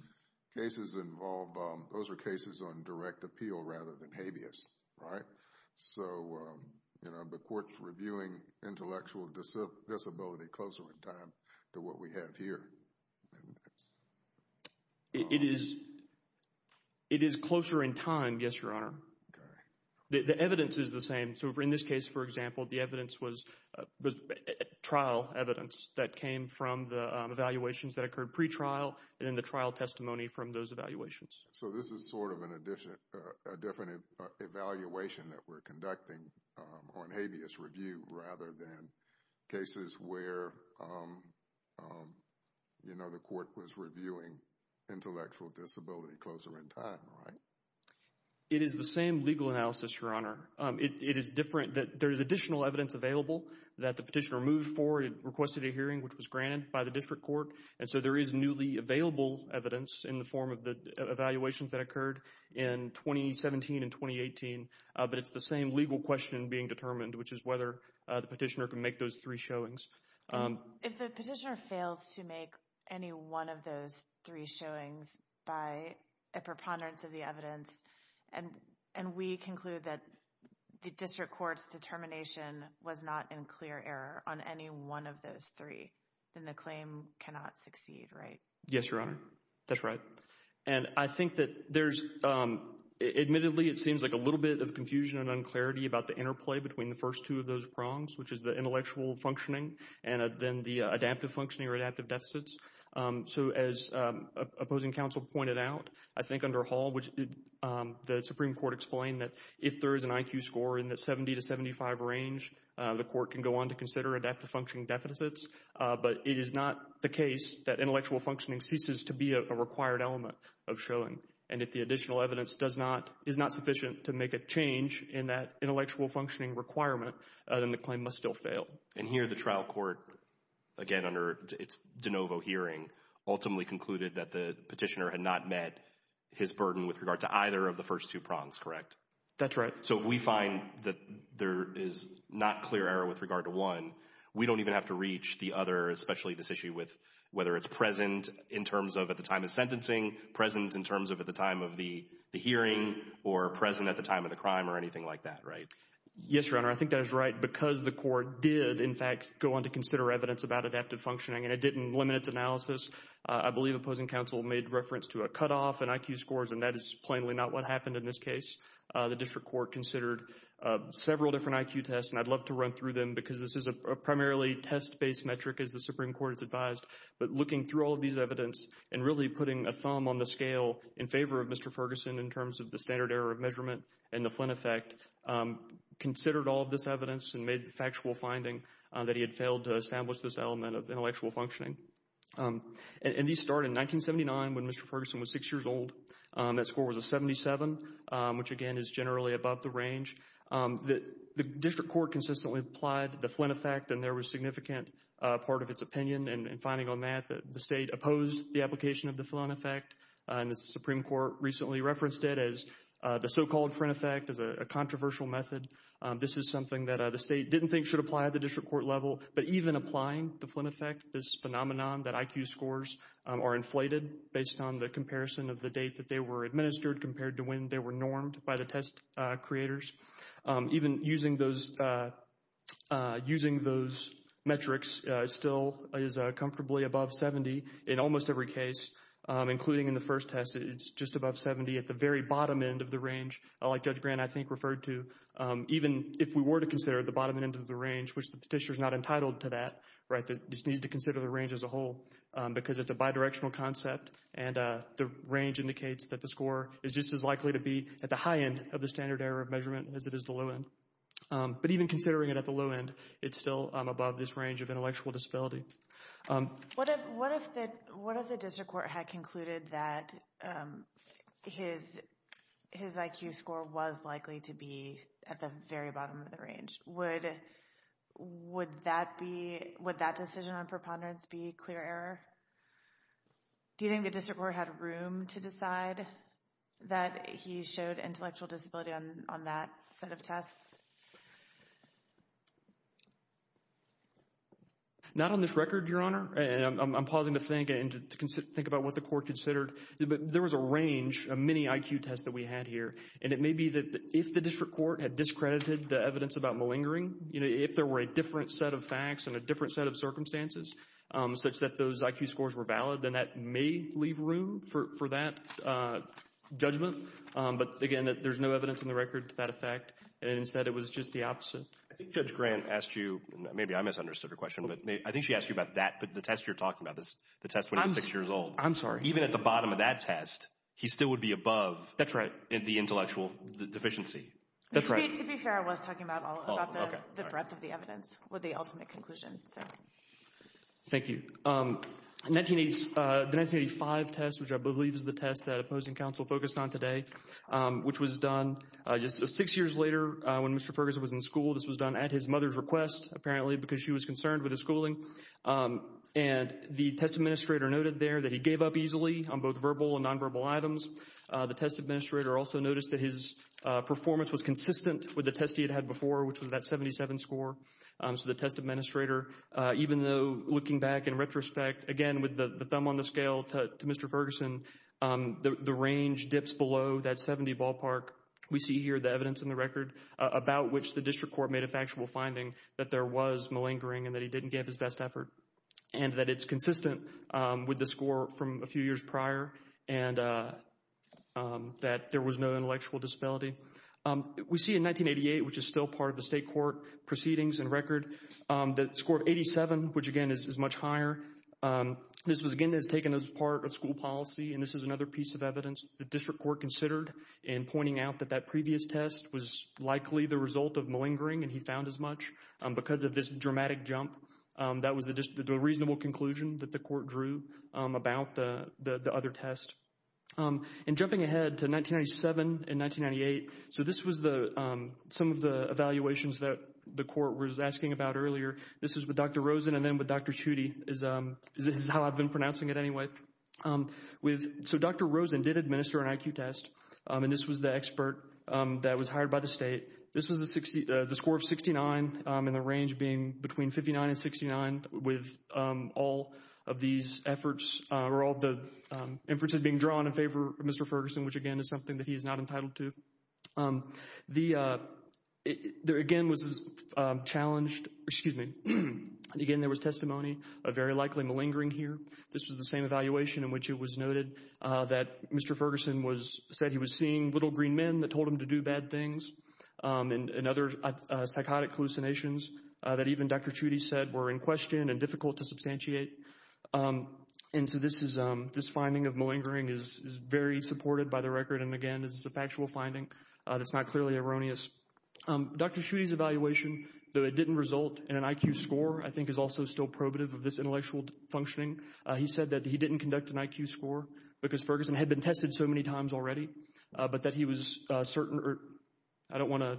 cases involve, those are cases on direct appeal rather than habeas, right? So, you know, the court's reviewing intellectual disability closer in time to what we have here. It is closer in time, yes, Your Honor. Okay. The evidence is the same. So in this case, for example, the evidence was trial evidence that came from the evaluations that occurred pre-trial and then the trial testimony from those evaluations. So this is sort of an addition, a different evaluation that we're conducting on habeas review rather than cases where, you know, the court was reviewing intellectual disability closer in time, right? It is the same legal analysis, Your Honor. It is different that there is additional evidence available that the petitioner moved forward requested a hearing, which was granted by the district court. And so there is newly available evidence in the form of the evaluations that occurred in 2017 and 2018. But it's the same legal question being determined, which is whether the petitioner can make those three showings. If the petitioner fails to make any one of those three showings by a preponderance of the evidence and we conclude that the district court's determination was not in clear error on any one of those three, then the claim cannot succeed, right? Yes, Your Honor. That's right. And I think that there's, admittedly, it seems like a little bit of confusion and unclarity about the interplay between the first two of those prongs, which is the intellectual functioning and then the adaptive functioning or adaptive deficits. So as opposing counsel pointed out, I think under Hall, which the Supreme Court explained that if there is an IQ score in the 70 to 75 range, the court can go on to consider adaptive functioning deficits. But it is not the case that intellectual functioning ceases to be a required element of showing. And if the additional evidence does not, is not sufficient to make a change in that intellectual functioning requirement, then the claim must still fail. And here the trial court, again, under its de novo hearing, ultimately concluded that the petitioner had not met his burden with regard to either of the first two prongs, correct? That's right. So if we find that there is not clear error with regard to one, we don't even have to reach the other, especially this issue with whether it's present in terms of at the time of sentencing, present in terms of at the time of the hearing, or present at the time of the crime or anything like that, right? Yes, Your Honor. I think that is right because the court did, in fact, go on to consider evidence about adaptive functioning, and it didn't limit its analysis. I believe opposing counsel made reference to a cutoff in IQ scores, and that is plainly what happened in this case. The district court considered several different IQ tests, and I'd love to run through them because this is a primarily test-based metric, as the Supreme Court has advised, but looking through all of these evidence and really putting a thumb on the scale in favor of Mr. Ferguson in terms of the standard error of measurement and the Flynn effect, considered all of this evidence and made the factual finding that he had failed to establish this element of intellectual functioning. And these start in 1979 when Mr. Ferguson was six years old. That score was a 77, which, again, is generally above the range. The district court consistently applied the Flynn effect, and there was significant part of its opinion in finding on that that the state opposed the application of the Flynn effect, and the Supreme Court recently referenced it as the so-called Flynn effect as a controversial method. This is something that the state didn't think should apply at the district court level, but even applying the Flynn effect, this phenomenon that IQ scores are inflated based on the comparison of the date that they were administered compared to when they were normed by the test creators, even using those metrics still is comfortably above 70 in almost every case, including in the first test. It's just above 70 at the very bottom end of the range, like Judge Grant, I think, referred to, even if we were to consider the bottom end of the range, which the Petitioner's not entitled to that, right, that just needs to consider the range as a whole, because it's a bidirectional concept, and the range indicates that the score is just as likely to be at the high end of the standard error of measurement as it is the low end. But even considering it at the low end, it's still above this range of intellectual disability. What if the district court had concluded that his IQ score was likely to be at the very bottom of the range? Would that be, would that decision on preponderance be clear error? Do you think the district court had room to decide that he showed intellectual disability on that set of tests? Not on this record, Your Honor, and I'm pausing to think and to think about what the court considered, but there was a range, a mini IQ test that we had here, and it may be that if the district court had discredited the evidence about malingering, you know, if there were a different set of facts and a different set of circumstances, such that those IQ scores were valid, then that may leave room for that judgment. But again, there's no evidence in the record to that effect, and instead it was just the opposite. I think Judge Grant asked you, maybe I misunderstood her question, but I think she asked you about that, the test you're talking about, the test when he was six years old. I'm sorry. Even at the bottom of that test, he still would be above. That's right. The intellectual deficiency. That's right. To be fair, I was talking about the breadth of the evidence with the ultimate conclusion. Thank you. The 1985 test, which I believe is the test that opposing counsel focused on today, which was done just six years later when Mr. Ferguson was in school. This was done at his mother's request, apparently, because she was concerned with his schooling, and the test administrator noted there that he gave up easily on both verbal and nonverbal items. The test administrator also noticed that his performance was consistent with the test he had had before, which was that 77 score. So the test administrator, even though looking back in retrospect, again, with the thumb on the scale to Mr. Ferguson, the range dips below that 70 ballpark. We see here the evidence in the record about which the district court made a factual finding that there was malingering and that he didn't give his best effort, and that it's consistent with the score from a few years prior, and that there was no intellectual disability. We see in 1988, which is still part of the state court proceedings and record, the score of 87, which again is much higher. This was again taken as part of school policy, and this is another piece of evidence the district court considered in pointing out that that previous test was likely the result of malingering, and he found as much because of this dramatic jump. That was the reasonable conclusion that the court drew about the other test. And jumping ahead to 1997 and 1998, so this was some of the evaluations that the court was asking about earlier. This is with Dr. Rosen and then with Dr. Chutey, is how I've been pronouncing it anyway. So Dr. Rosen did administer an IQ test, and this was the expert that was hired by the state. This was the score of 69, and the range being between 59 and 69 with all of these efforts, or all the inferences being drawn in favor of Mr. Ferguson, which again is something that he is not entitled to. There again was this challenge, excuse me, again there was testimony of very likely malingering here. This was the same evaluation in which it was noted that Mr. Ferguson said he was seeing little green men that told him to do bad things. And other psychotic hallucinations that even Dr. Chutey said were in question and difficult to substantiate. And so this is, this finding of malingering is very supported by the record, and again this is a factual finding that's not clearly erroneous. Dr. Chutey's evaluation, though it didn't result in an IQ score, I think is also still probative of this intellectual functioning. He said that he didn't conduct an IQ score because Ferguson had been tested so many times already, but that he was certain, or I don't want to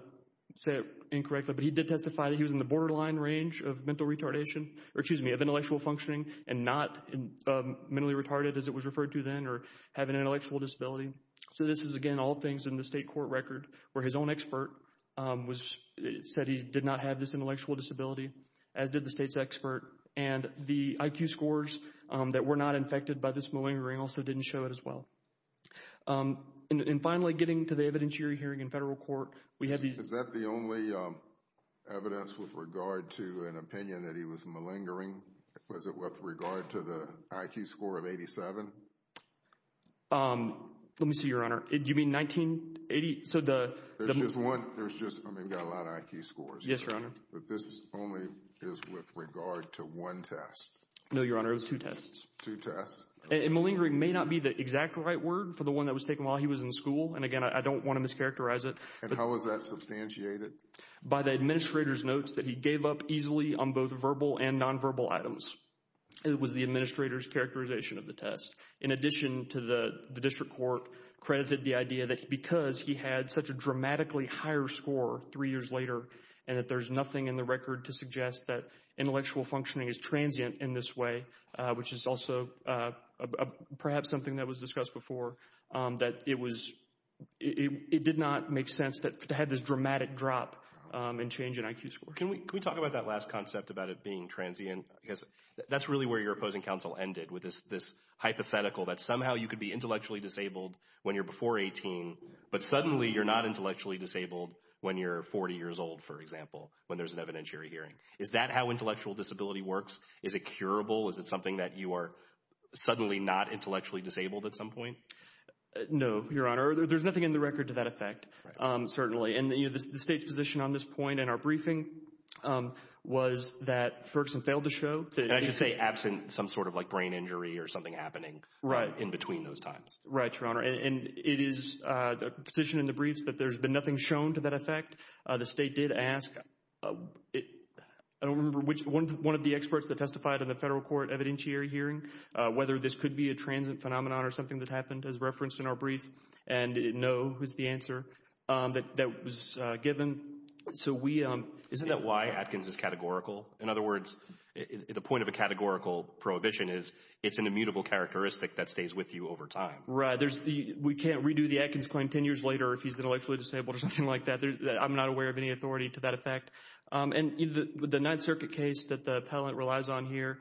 say it incorrectly, but he did testify that he was in the borderline range of mental retardation, or excuse me, of intellectual functioning and not mentally retarded as it was referred to then, or having an intellectual disability. So this is again all things in the state court record where his own expert said he did not have this intellectual disability, as did the state's expert, and the IQ scores that were not infected by this malingering also didn't show it as well. And finally, getting to the evidence you're hearing in federal court, we have the... Is that the only evidence with regard to an opinion that he was malingering? Was it with regard to the IQ score of 87? Let me see, Your Honor. Do you mean 1980? So the... There's just one. There's just, I mean, got a lot of IQ scores. Yes, Your Honor. But this only is with regard to one test. No, Your Honor, it was two tests. Two tests. And malingering may not be the exact right word for the one that was taken while he was in school. And again, I don't want to mischaracterize it. And how was that substantiated? By the administrator's notes that he gave up easily on both verbal and nonverbal items. It was the administrator's characterization of the test. In addition to the district court credited the idea that because he had such a dramatically higher score three years later, and that there's nothing in the record to suggest that intellectual perhaps something that was discussed before, that it did not make sense to have this dramatic drop and change in IQ score. Can we talk about that last concept about it being transient? Because that's really where your opposing counsel ended with this hypothetical that somehow you could be intellectually disabled when you're before 18, but suddenly you're not intellectually disabled when you're 40 years old, for example, when there's an evidentiary hearing. Is that how intellectual disability works? Is it curable? Is it something that you are suddenly not intellectually disabled at some point? No, Your Honor. There's nothing in the record to that effect. Certainly. And the state's position on this point in our briefing was that Ferguson failed to show that... I should say absent some sort of like brain injury or something happening in between those times. Right, Your Honor. And it is the position in the briefs that there's been nothing shown to that effect. The state did ask... I don't remember which one of the experts that testified in the federal court evidentiary hearing whether this could be a transient phenomenon or something that happened as referenced in our brief. And no was the answer that was given. So we... Isn't that why Atkins is categorical? In other words, the point of a categorical prohibition is it's an immutable characteristic that stays with you over time. Right. We can't redo the Atkins claim 10 years later if he's intellectually disabled or something like that. I'm not aware of any authority to that effect. And the Ninth Circuit case that the appellant relies on here,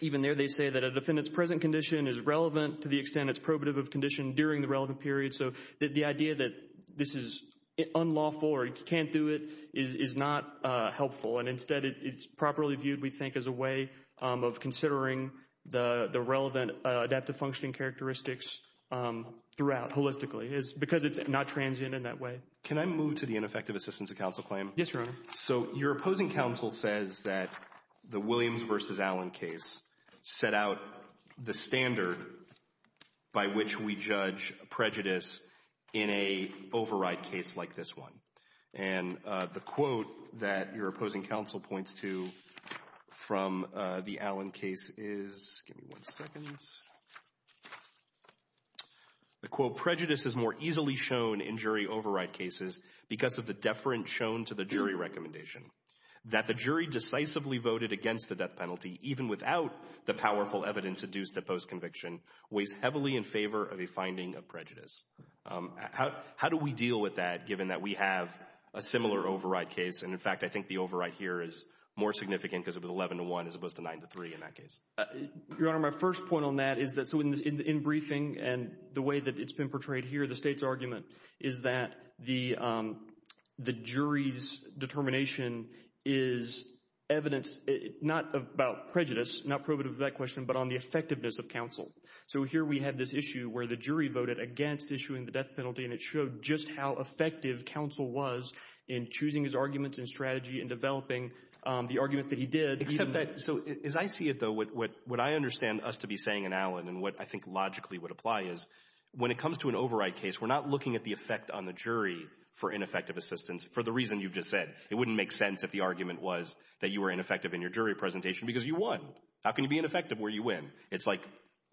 even there they say that a defendant's present condition is relevant to the extent it's probative of condition during the relevant period. So the idea that this is unlawful or you can't do it is not helpful. And instead, it's properly viewed, we think, as a way of considering the relevant adaptive functioning characteristics throughout holistically because it's not transient in that way. Can I move to the ineffective assistance of counsel claim? Yes, Your Honor. So your opposing counsel says that the Williams versus Allen case set out the standard by which we judge prejudice in a override case like this one. And the quote that your opposing counsel points to from the Allen case is... Give me one second. The quote, prejudice is more easily shown in jury override cases because of the deference shown to the jury recommendation. That the jury decisively voted against the death penalty even without the powerful evidence adduced at post-conviction weighs heavily in favor of a finding of prejudice. How do we deal with that given that we have a similar override case? And in fact, I think the override here is more significant because it was 11 to 1 as opposed to 9 to 3 in that case. Your Honor, my first point on that is that in briefing and the way that it's been portrayed here, the state's argument is that the jury's determination is evidence not about prejudice, not probative of that question, but on the effectiveness of counsel. So here we have this issue where the jury voted against issuing the death penalty and it showed just how effective counsel was in choosing his arguments and strategy and developing the arguments that he did. Except that, so as I see it though, what I understand us to be saying in Allen and what I think logically would apply is when it comes to an override case, we're not looking at the effect on the jury for ineffective assistance for the reason you've just said. It wouldn't make sense if the argument was that you were ineffective in your jury presentation because you won. How can you be ineffective where you win? It's like,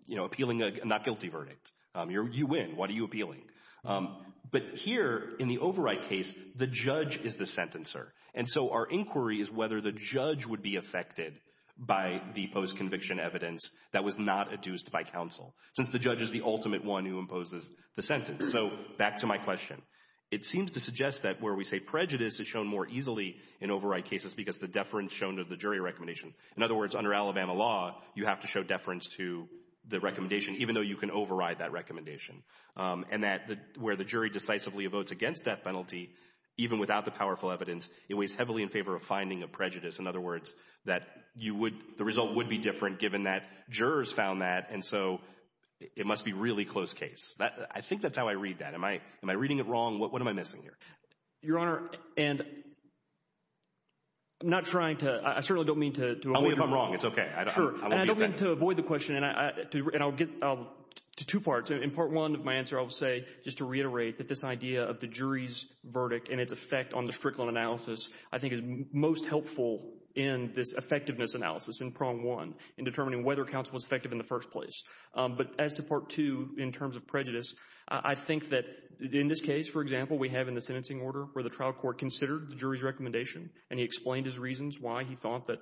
you know, appealing a not guilty verdict. You win. What are you appealing? But here in the override case, the judge is the sentencer. And so our inquiry is whether the judge would be affected by the post-conviction evidence that was not adduced by counsel, since the judge is the ultimate one who imposes the sentence. So back to my question. It seems to suggest that where we say prejudice is shown more easily in override cases because the deference shown to the jury recommendation. In other words, under Alabama law, you have to show deference to the recommendation even though you can override that recommendation. And that where the jury decisively votes against death penalty, even without the powerful evidence, it weighs heavily in favor of finding of prejudice. In other words, that you would, the result would be different given that jurors found that. And so it must be really close case. I think that's how I read that. Am I reading it wrong? What am I missing here? Your Honor, and I'm not trying to, I certainly don't mean to. Only if I'm wrong. It's okay. Sure. I don't mean to avoid the question and I'll get to two parts. In part one of my answer, I'll say just to reiterate that this idea of the jury's I think is most helpful in this effectiveness analysis in prong one, in determining whether counsel was effective in the first place. But as to part two, in terms of prejudice, I think that in this case, for example, we have in the sentencing order where the trial court considered the jury's recommendation and he explained his reasons why he thought that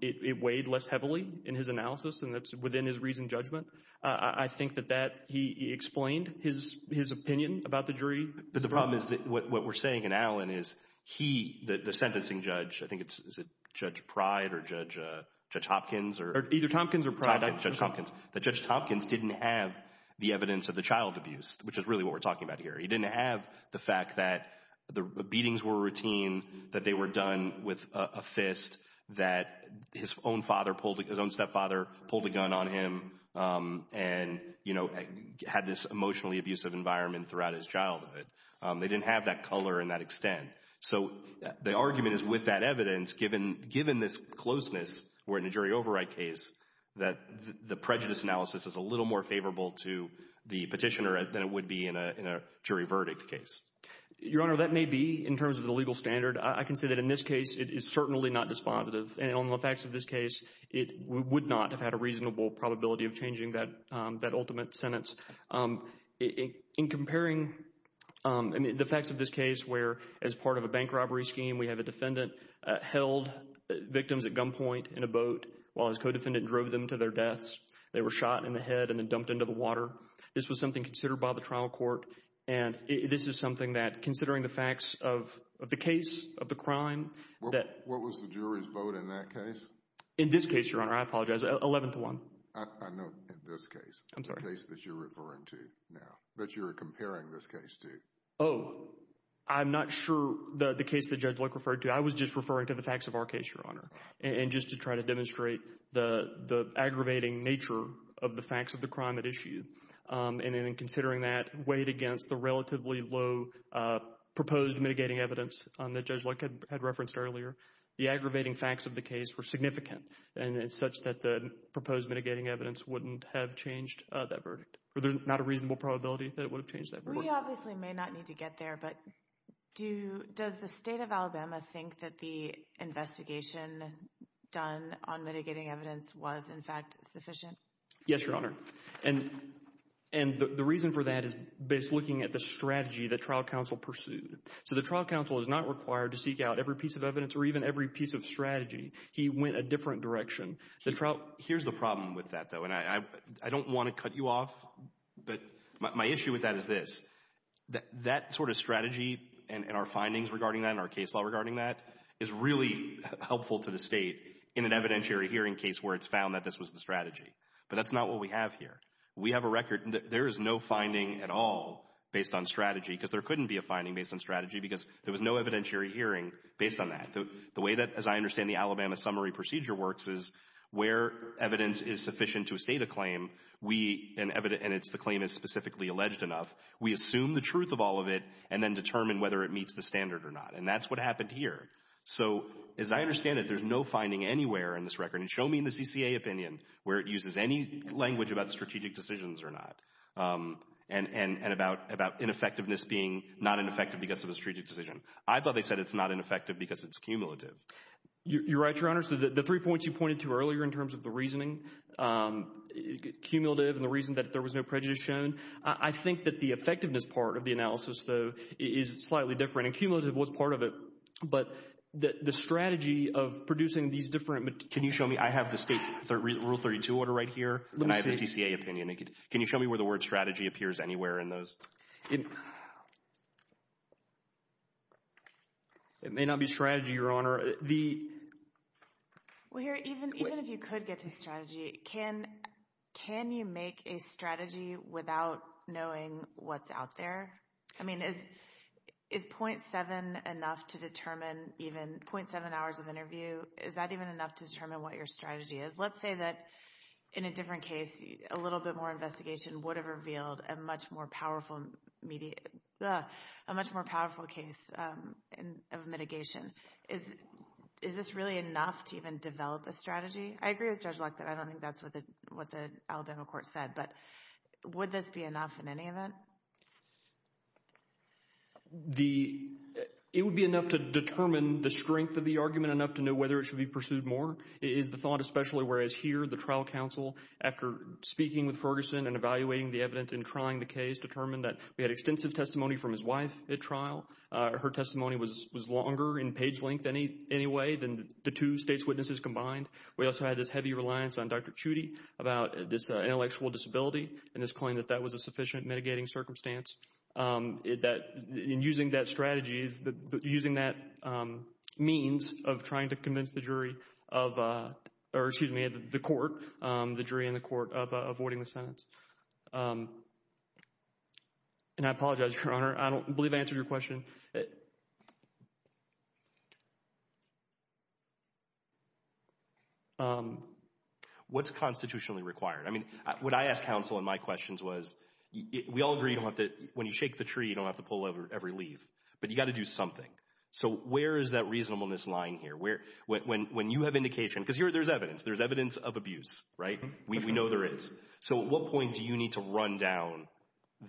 it weighed less heavily in his analysis and that's within his reason judgment. I think that he explained his opinion about the jury. But the problem is that what we're saying in Allen is he, the sentencing judge, I think it's, is it Judge Pride or Judge Hopkins or? Either Tompkins or Pride. Judge Tompkins. That Judge Tompkins didn't have the evidence of the child abuse, which is really what we're talking about here. He didn't have the fact that the beatings were routine, that they were done with a fist, that his own father pulled, his own stepfather pulled a gun on him and, you know, had this They didn't have that color and that extent. So the argument is with that evidence, given, given this closeness, we're in a jury override case that the prejudice analysis is a little more favorable to the petitioner than it would be in a jury verdict case. Your Honor, that may be in terms of the legal standard. I can say that in this case, it is certainly not dispositive. And on the facts of this case, it would not have had a reasonable probability of changing that, that ultimate sentence. In comparing the facts of this case, where as part of a bank robbery scheme, we have a defendant held victims at gunpoint in a boat while his co-defendant drove them to their deaths. They were shot in the head and then dumped into the water. This was something considered by the trial court. And this is something that, considering the facts of the case, of the crime, that What was the jury's vote in that case? In this case, Your Honor, I apologize, 11 to 1. I know in this case, the case that you're referring to now, that you're comparing this case to. Oh, I'm not sure the case that Judge Luck referred to. I was just referring to the facts of our case, Your Honor. And just to try to demonstrate the aggravating nature of the facts of the crime at issue. And in considering that weighed against the relatively low proposed mitigating evidence that Judge Luck had referenced earlier, the aggravating facts of the case were significant. And it's such that the proposed mitigating evidence wouldn't have changed that verdict, or there's not a reasonable probability that it would have changed that verdict. We obviously may not need to get there, but does the state of Alabama think that the investigation done on mitigating evidence was, in fact, sufficient? Yes, Your Honor. And the reason for that is based looking at the strategy that trial counsel pursued. So the trial counsel is not required to seek out every piece of evidence or even every piece of strategy. He went a different direction. Here's the problem with that, though, and I don't want to cut you off, but my issue with that is this. That sort of strategy and our findings regarding that and our case law regarding that is really helpful to the state in an evidentiary hearing case where it's found that this was the strategy. But that's not what we have here. We have a record. There is no finding at all based on strategy because there couldn't be a finding based on strategy because there was no evidentiary hearing based on that. The way that, as I understand, the Alabama summary procedure works is where evidence is sufficient to state a claim, and the claim is specifically alleged enough, we assume the truth of all of it and then determine whether it meets the standard or not. And that's what happened here. So as I understand it, there's no finding anywhere in this record. And show me in the CCA opinion where it uses any language about strategic decisions or not and about ineffectiveness being not ineffective because of a strategic decision. I thought they said it's not ineffective because it's cumulative. You're right, Your Honor. So the three points you pointed to earlier in terms of the reasoning, cumulative and the reason that there was no prejudice shown, I think that the effectiveness part of the analysis, though, is slightly different. And cumulative was part of it. But the strategy of producing these different... Can you show me? I have the state rule 32 order right here and I have a CCA opinion. Can you show me where the word strategy appears anywhere in those? It may not be strategy, Your Honor. Well, here, even if you could get to strategy, can you make a strategy without knowing what's out there? I mean, is .7 enough to determine even .7 hours of interview? Is that even enough to determine what your strategy is? Let's say that in a different case, a little bit more investigation would have revealed a much more powerful case of mitigation. Is this really enough to even develop a strategy? I agree with Judge Locke that I don't think that's what the Alabama court said. But would this be enough in any event? It would be enough to determine the strength of the argument, enough to know whether it should be pursued more is the thought, especially whereas here, the trial counsel, after speaking with Ferguson and evaluating the evidence and trying the case, determined that we had extensive testimony from his wife at trial. Her testimony was longer in page length in any way than the two state's witnesses combined. We also had this heavy reliance on Dr. Chudy about this intellectual disability and his claim that that was a sufficient mitigating circumstance. In using that strategy, using that means of trying to convince the jury of, or excuse me, I'm trying to think of a sentence, and I apologize, Your Honor. I don't believe I answered your question. What's constitutionally required? I mean, what I asked counsel in my questions was, we all agree you don't have to, when you shake the tree, you don't have to pull every leaf, but you got to do something. So where is that reasonableness lying here? When you have indication, because there's evidence, there's evidence of abuse, right? We know there is. At what point do you need to run down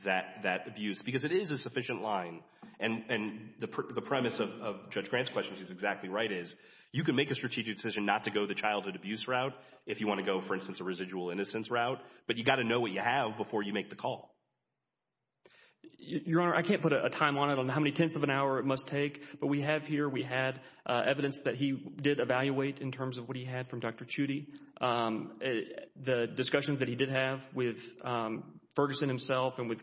that abuse? Because it is a sufficient line, and the premise of Judge Grant's question, which is exactly right, is you can make a strategic decision not to go the childhood abuse route if you want to go, for instance, a residual innocence route, but you got to know what you have before you make the call. Your Honor, I can't put a timeline on how many tenths of an hour it must take, but we have here, we had evidence that he did evaluate in terms of what he had from Dr. Chudy. The discussions that he did have with Ferguson himself and with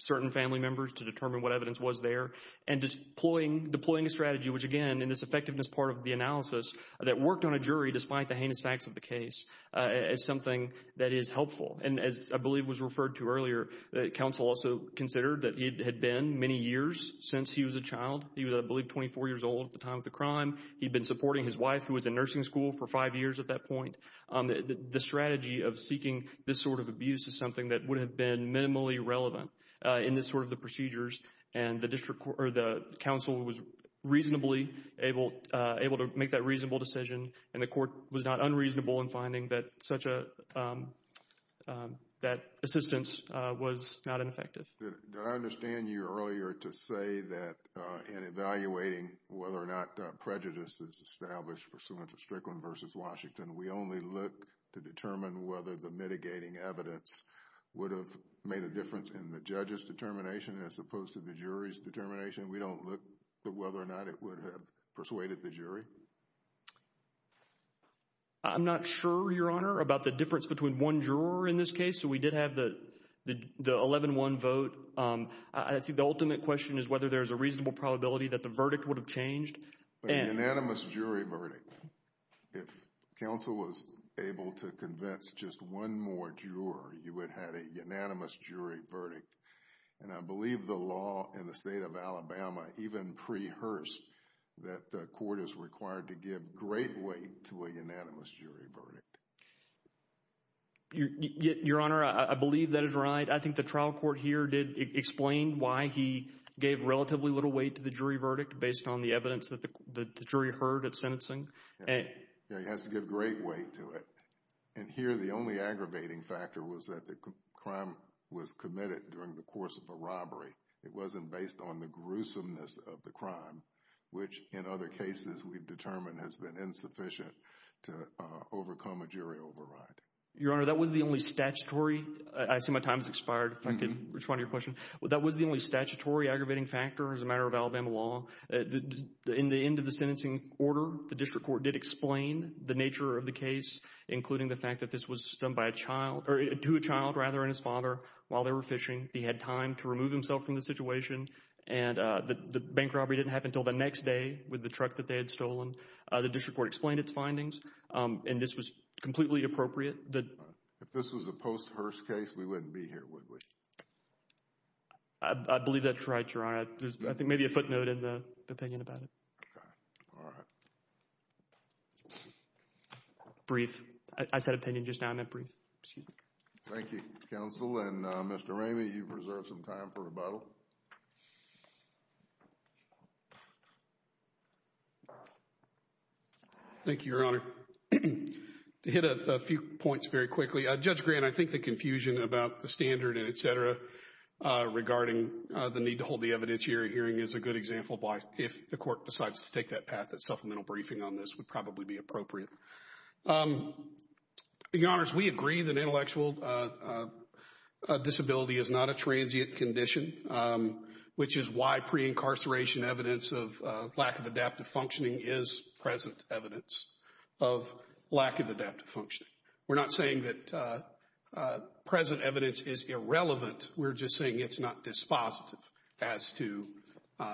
certain family members to determine what evidence was there, and deploying a strategy, which again, in this effectiveness part of the analysis, that worked on a jury despite the heinous facts of the case, is something that is helpful. And as I believe was referred to earlier, counsel also considered that it had been many years since he was a child. He was, I believe, 24 years old at the time of the crime. He'd been supporting his wife, who was in nursing school for five years at that point. The strategy of seeking this sort of abuse is something that would have been minimally relevant in this sort of the procedures, and the council was reasonably able to make that reasonable decision, and the court was not unreasonable in finding that assistance was not ineffective. Did I understand you earlier to say that in evaluating whether or not prejudice is established pursuant to Strickland v. Washington, we only look to determine whether the mitigating evidence would have made a difference in the judge's determination as opposed to the jury's determination? We don't look at whether or not it would have persuaded the jury? I'm not sure, Your Honor, about the difference between one juror in this case. We did have the 11-1 vote. I think the ultimate question is whether there's a reasonable probability that the verdict would have changed. But a unanimous jury verdict. If counsel was able to convince just one more juror, you would have a unanimous jury verdict, and I believe the law in the state of Alabama even pre-hearsed that the court is required to give great weight to a unanimous jury verdict. Your Honor, I believe that is right. I think the trial court here did explain why he gave relatively little weight to the jury verdict based on the evidence that the jury heard at sentencing. Yeah, he has to give great weight to it. And here, the only aggravating factor was that the crime was committed during the course of a robbery. It wasn't based on the gruesomeness of the crime, which in other cases we've determined has been insufficient to overcome a jury override. Your Honor, that was the only statutory, I see my time has expired, if I can respond to your question. That was the only statutory aggravating factor as a matter of Alabama law. In the end of the sentencing order, the district court did explain the nature of the case, including the fact that this was done by a child, or to a child rather, and his father while they were fishing. He had time to remove himself from the situation, and the bank robbery didn't happen until the next day with the truck that they had stolen. The district court explained its findings, and this was completely appropriate. If this was a post Hearst case, we wouldn't be here, would we? I believe that's right, Your Honor. I think maybe a footnote in the opinion about it. Okay, all right. Brief. I said opinion just now. I meant brief. Excuse me. Thank you, counsel. And Mr. Ramey, you've reserved some time for rebuttal. Thank you, Your Honor. To hit a few points very quickly, Judge Grant, I think the confusion about the standard and et cetera regarding the need to hold the evidentiary hearing is a good example by if the court decides to take that path, that supplemental briefing on this would probably be appropriate. Your Honors, we agree that intellectual disability is not a transient condition, which is why pre-incarceration evidence of lack of adaptive functioning is present evidence of lack of adaptive functioning. We're not saying that present evidence is irrelevant. We're just saying it's not dispositive as to...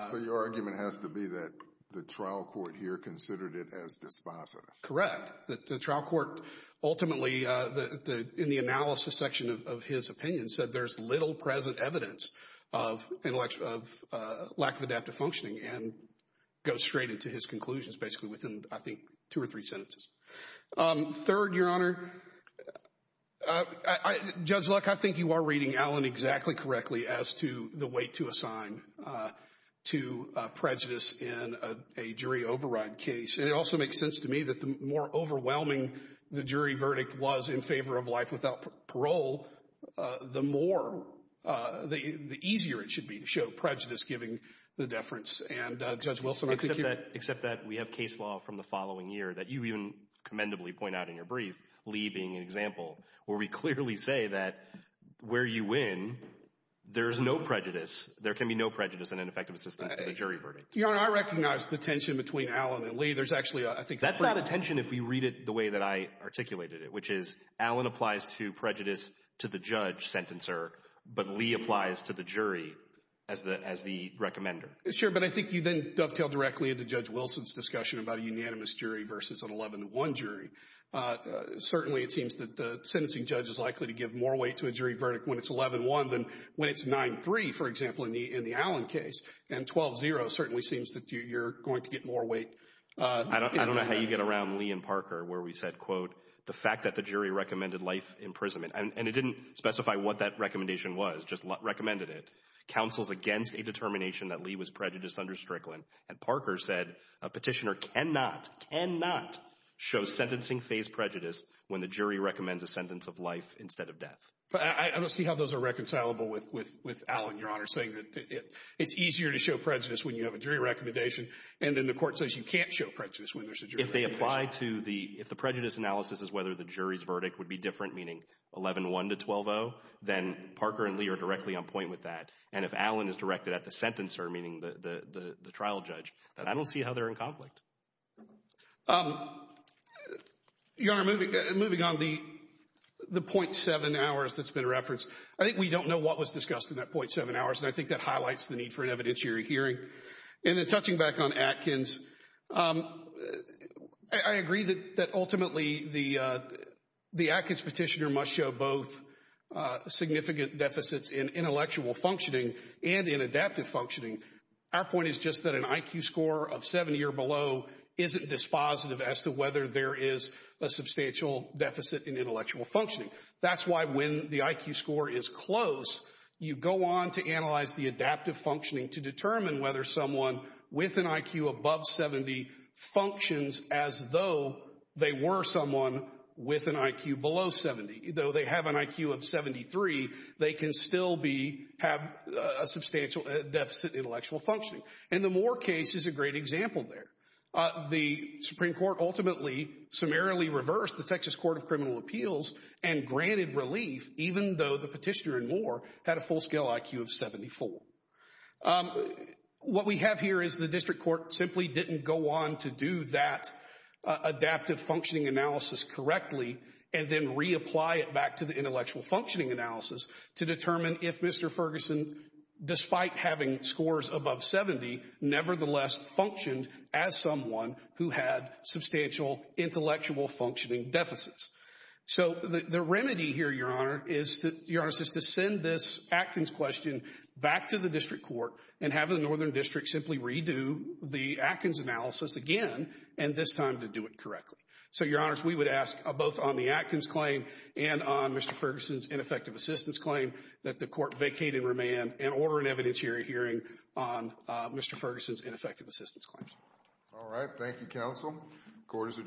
So your argument has to be that the trial court here considered it as dispositive? Correct. The trial court ultimately, in the analysis section of his opinion, said there's little present evidence of lack of adaptive functioning and goes straight into his conclusions, basically within, I think, two or three sentences. Third, Your Honor, Judge Luck, I think you are reading Allen exactly correctly as to the weight to assign to prejudice in a jury override case. And it also makes sense to me that the more overwhelming the jury verdict was in favor of life without parole, the more, the easier it should be to show prejudice giving the deference. And Judge Wilson, I think you... Except that we have case law from the following year that you even commendably point out in your brief, Lee being an example, where we clearly say that where you win, there's no prejudice. There can be no prejudice in an effective assistance to the jury verdict. Your Honor, I recognize the tension between Allen and Lee. There's actually, I think... That's not a tension if we read it the way that I articulated it, which is Allen applies to prejudice to the judge, sentencer, but Lee applies to the jury as the recommender. Sure, but I think you then dovetail directly into Judge Wilson's discussion about a unanimous jury versus an 11-1 jury. Certainly, it seems that the sentencing judge is likely to give more weight to a jury verdict when it's 11-1 than when it's 9-3, for example, in the Allen case. And 12-0 certainly seems that you're going to get more weight... I don't know how you get around Lee and Parker, where we said, quote, the fact that the jury recommended life imprisonment, and it didn't specify what that recommendation was, just recommended it, counsels against a determination that Lee was prejudiced under Strickland. And Parker said a petitioner cannot, cannot show sentencing-phase prejudice when the jury recommends a sentence of life instead of death. But I don't see how those are reconcilable with Allen, Your Honor, saying that it's easier to show prejudice when you have a jury recommendation, and then the court says you can't show prejudice when there's a jury recommendation. If they apply to the... If the prejudice analysis is whether the jury's verdict would be different, meaning 11-1 to 12-0, then Parker and Lee are directly on point with that. And if Allen is directed at the sentencer, meaning the trial judge, then I don't see how they're in conflict. Your Honor, moving on, the .7 hours that's been referenced, I think we don't know what was discussed in that .7 hours, and I think that highlights the need for an evidentiary hearing. And then touching back on Atkins, I agree that ultimately the Atkins petitioner must show both significant deficits in intellectual functioning and in adaptive functioning. Our point is just that an IQ score of 70 or below isn't dispositive as to whether there is a substantial deficit in intellectual functioning. That's why when the IQ score is close, you go on to analyze the adaptive functioning to determine whether someone with an IQ above 70 functions as though they were someone with an IQ below 70. Though they have an IQ of 73, they can still have a substantial deficit in intellectual functioning. And the Moore case is a great example there. The Supreme Court ultimately summarily reversed the Texas Court of Criminal Appeals and granted relief, even though the petitioner in Moore had a full-scale IQ of 74. What we have here is the district court simply didn't go on to do that adaptive functioning analysis correctly and then reapply it back to the intellectual functioning analysis to determine if Mr. Ferguson, despite having scores above 70, nevertheless functioned as someone who had substantial intellectual functioning deficits. So the remedy here, Your Honor, is to send this Atkins question back to the district court and have the northern district simply redo the Atkins analysis again, and this time to do it correctly. So, Your Honors, we would ask both on the Atkins claim and on Mr. Ferguson's ineffective assistance claim that the court vacate and remand and order an evidentiary hearing on Mr. Ferguson's ineffective assistance claims. All right. Thank you, counsel. Court is adjourned.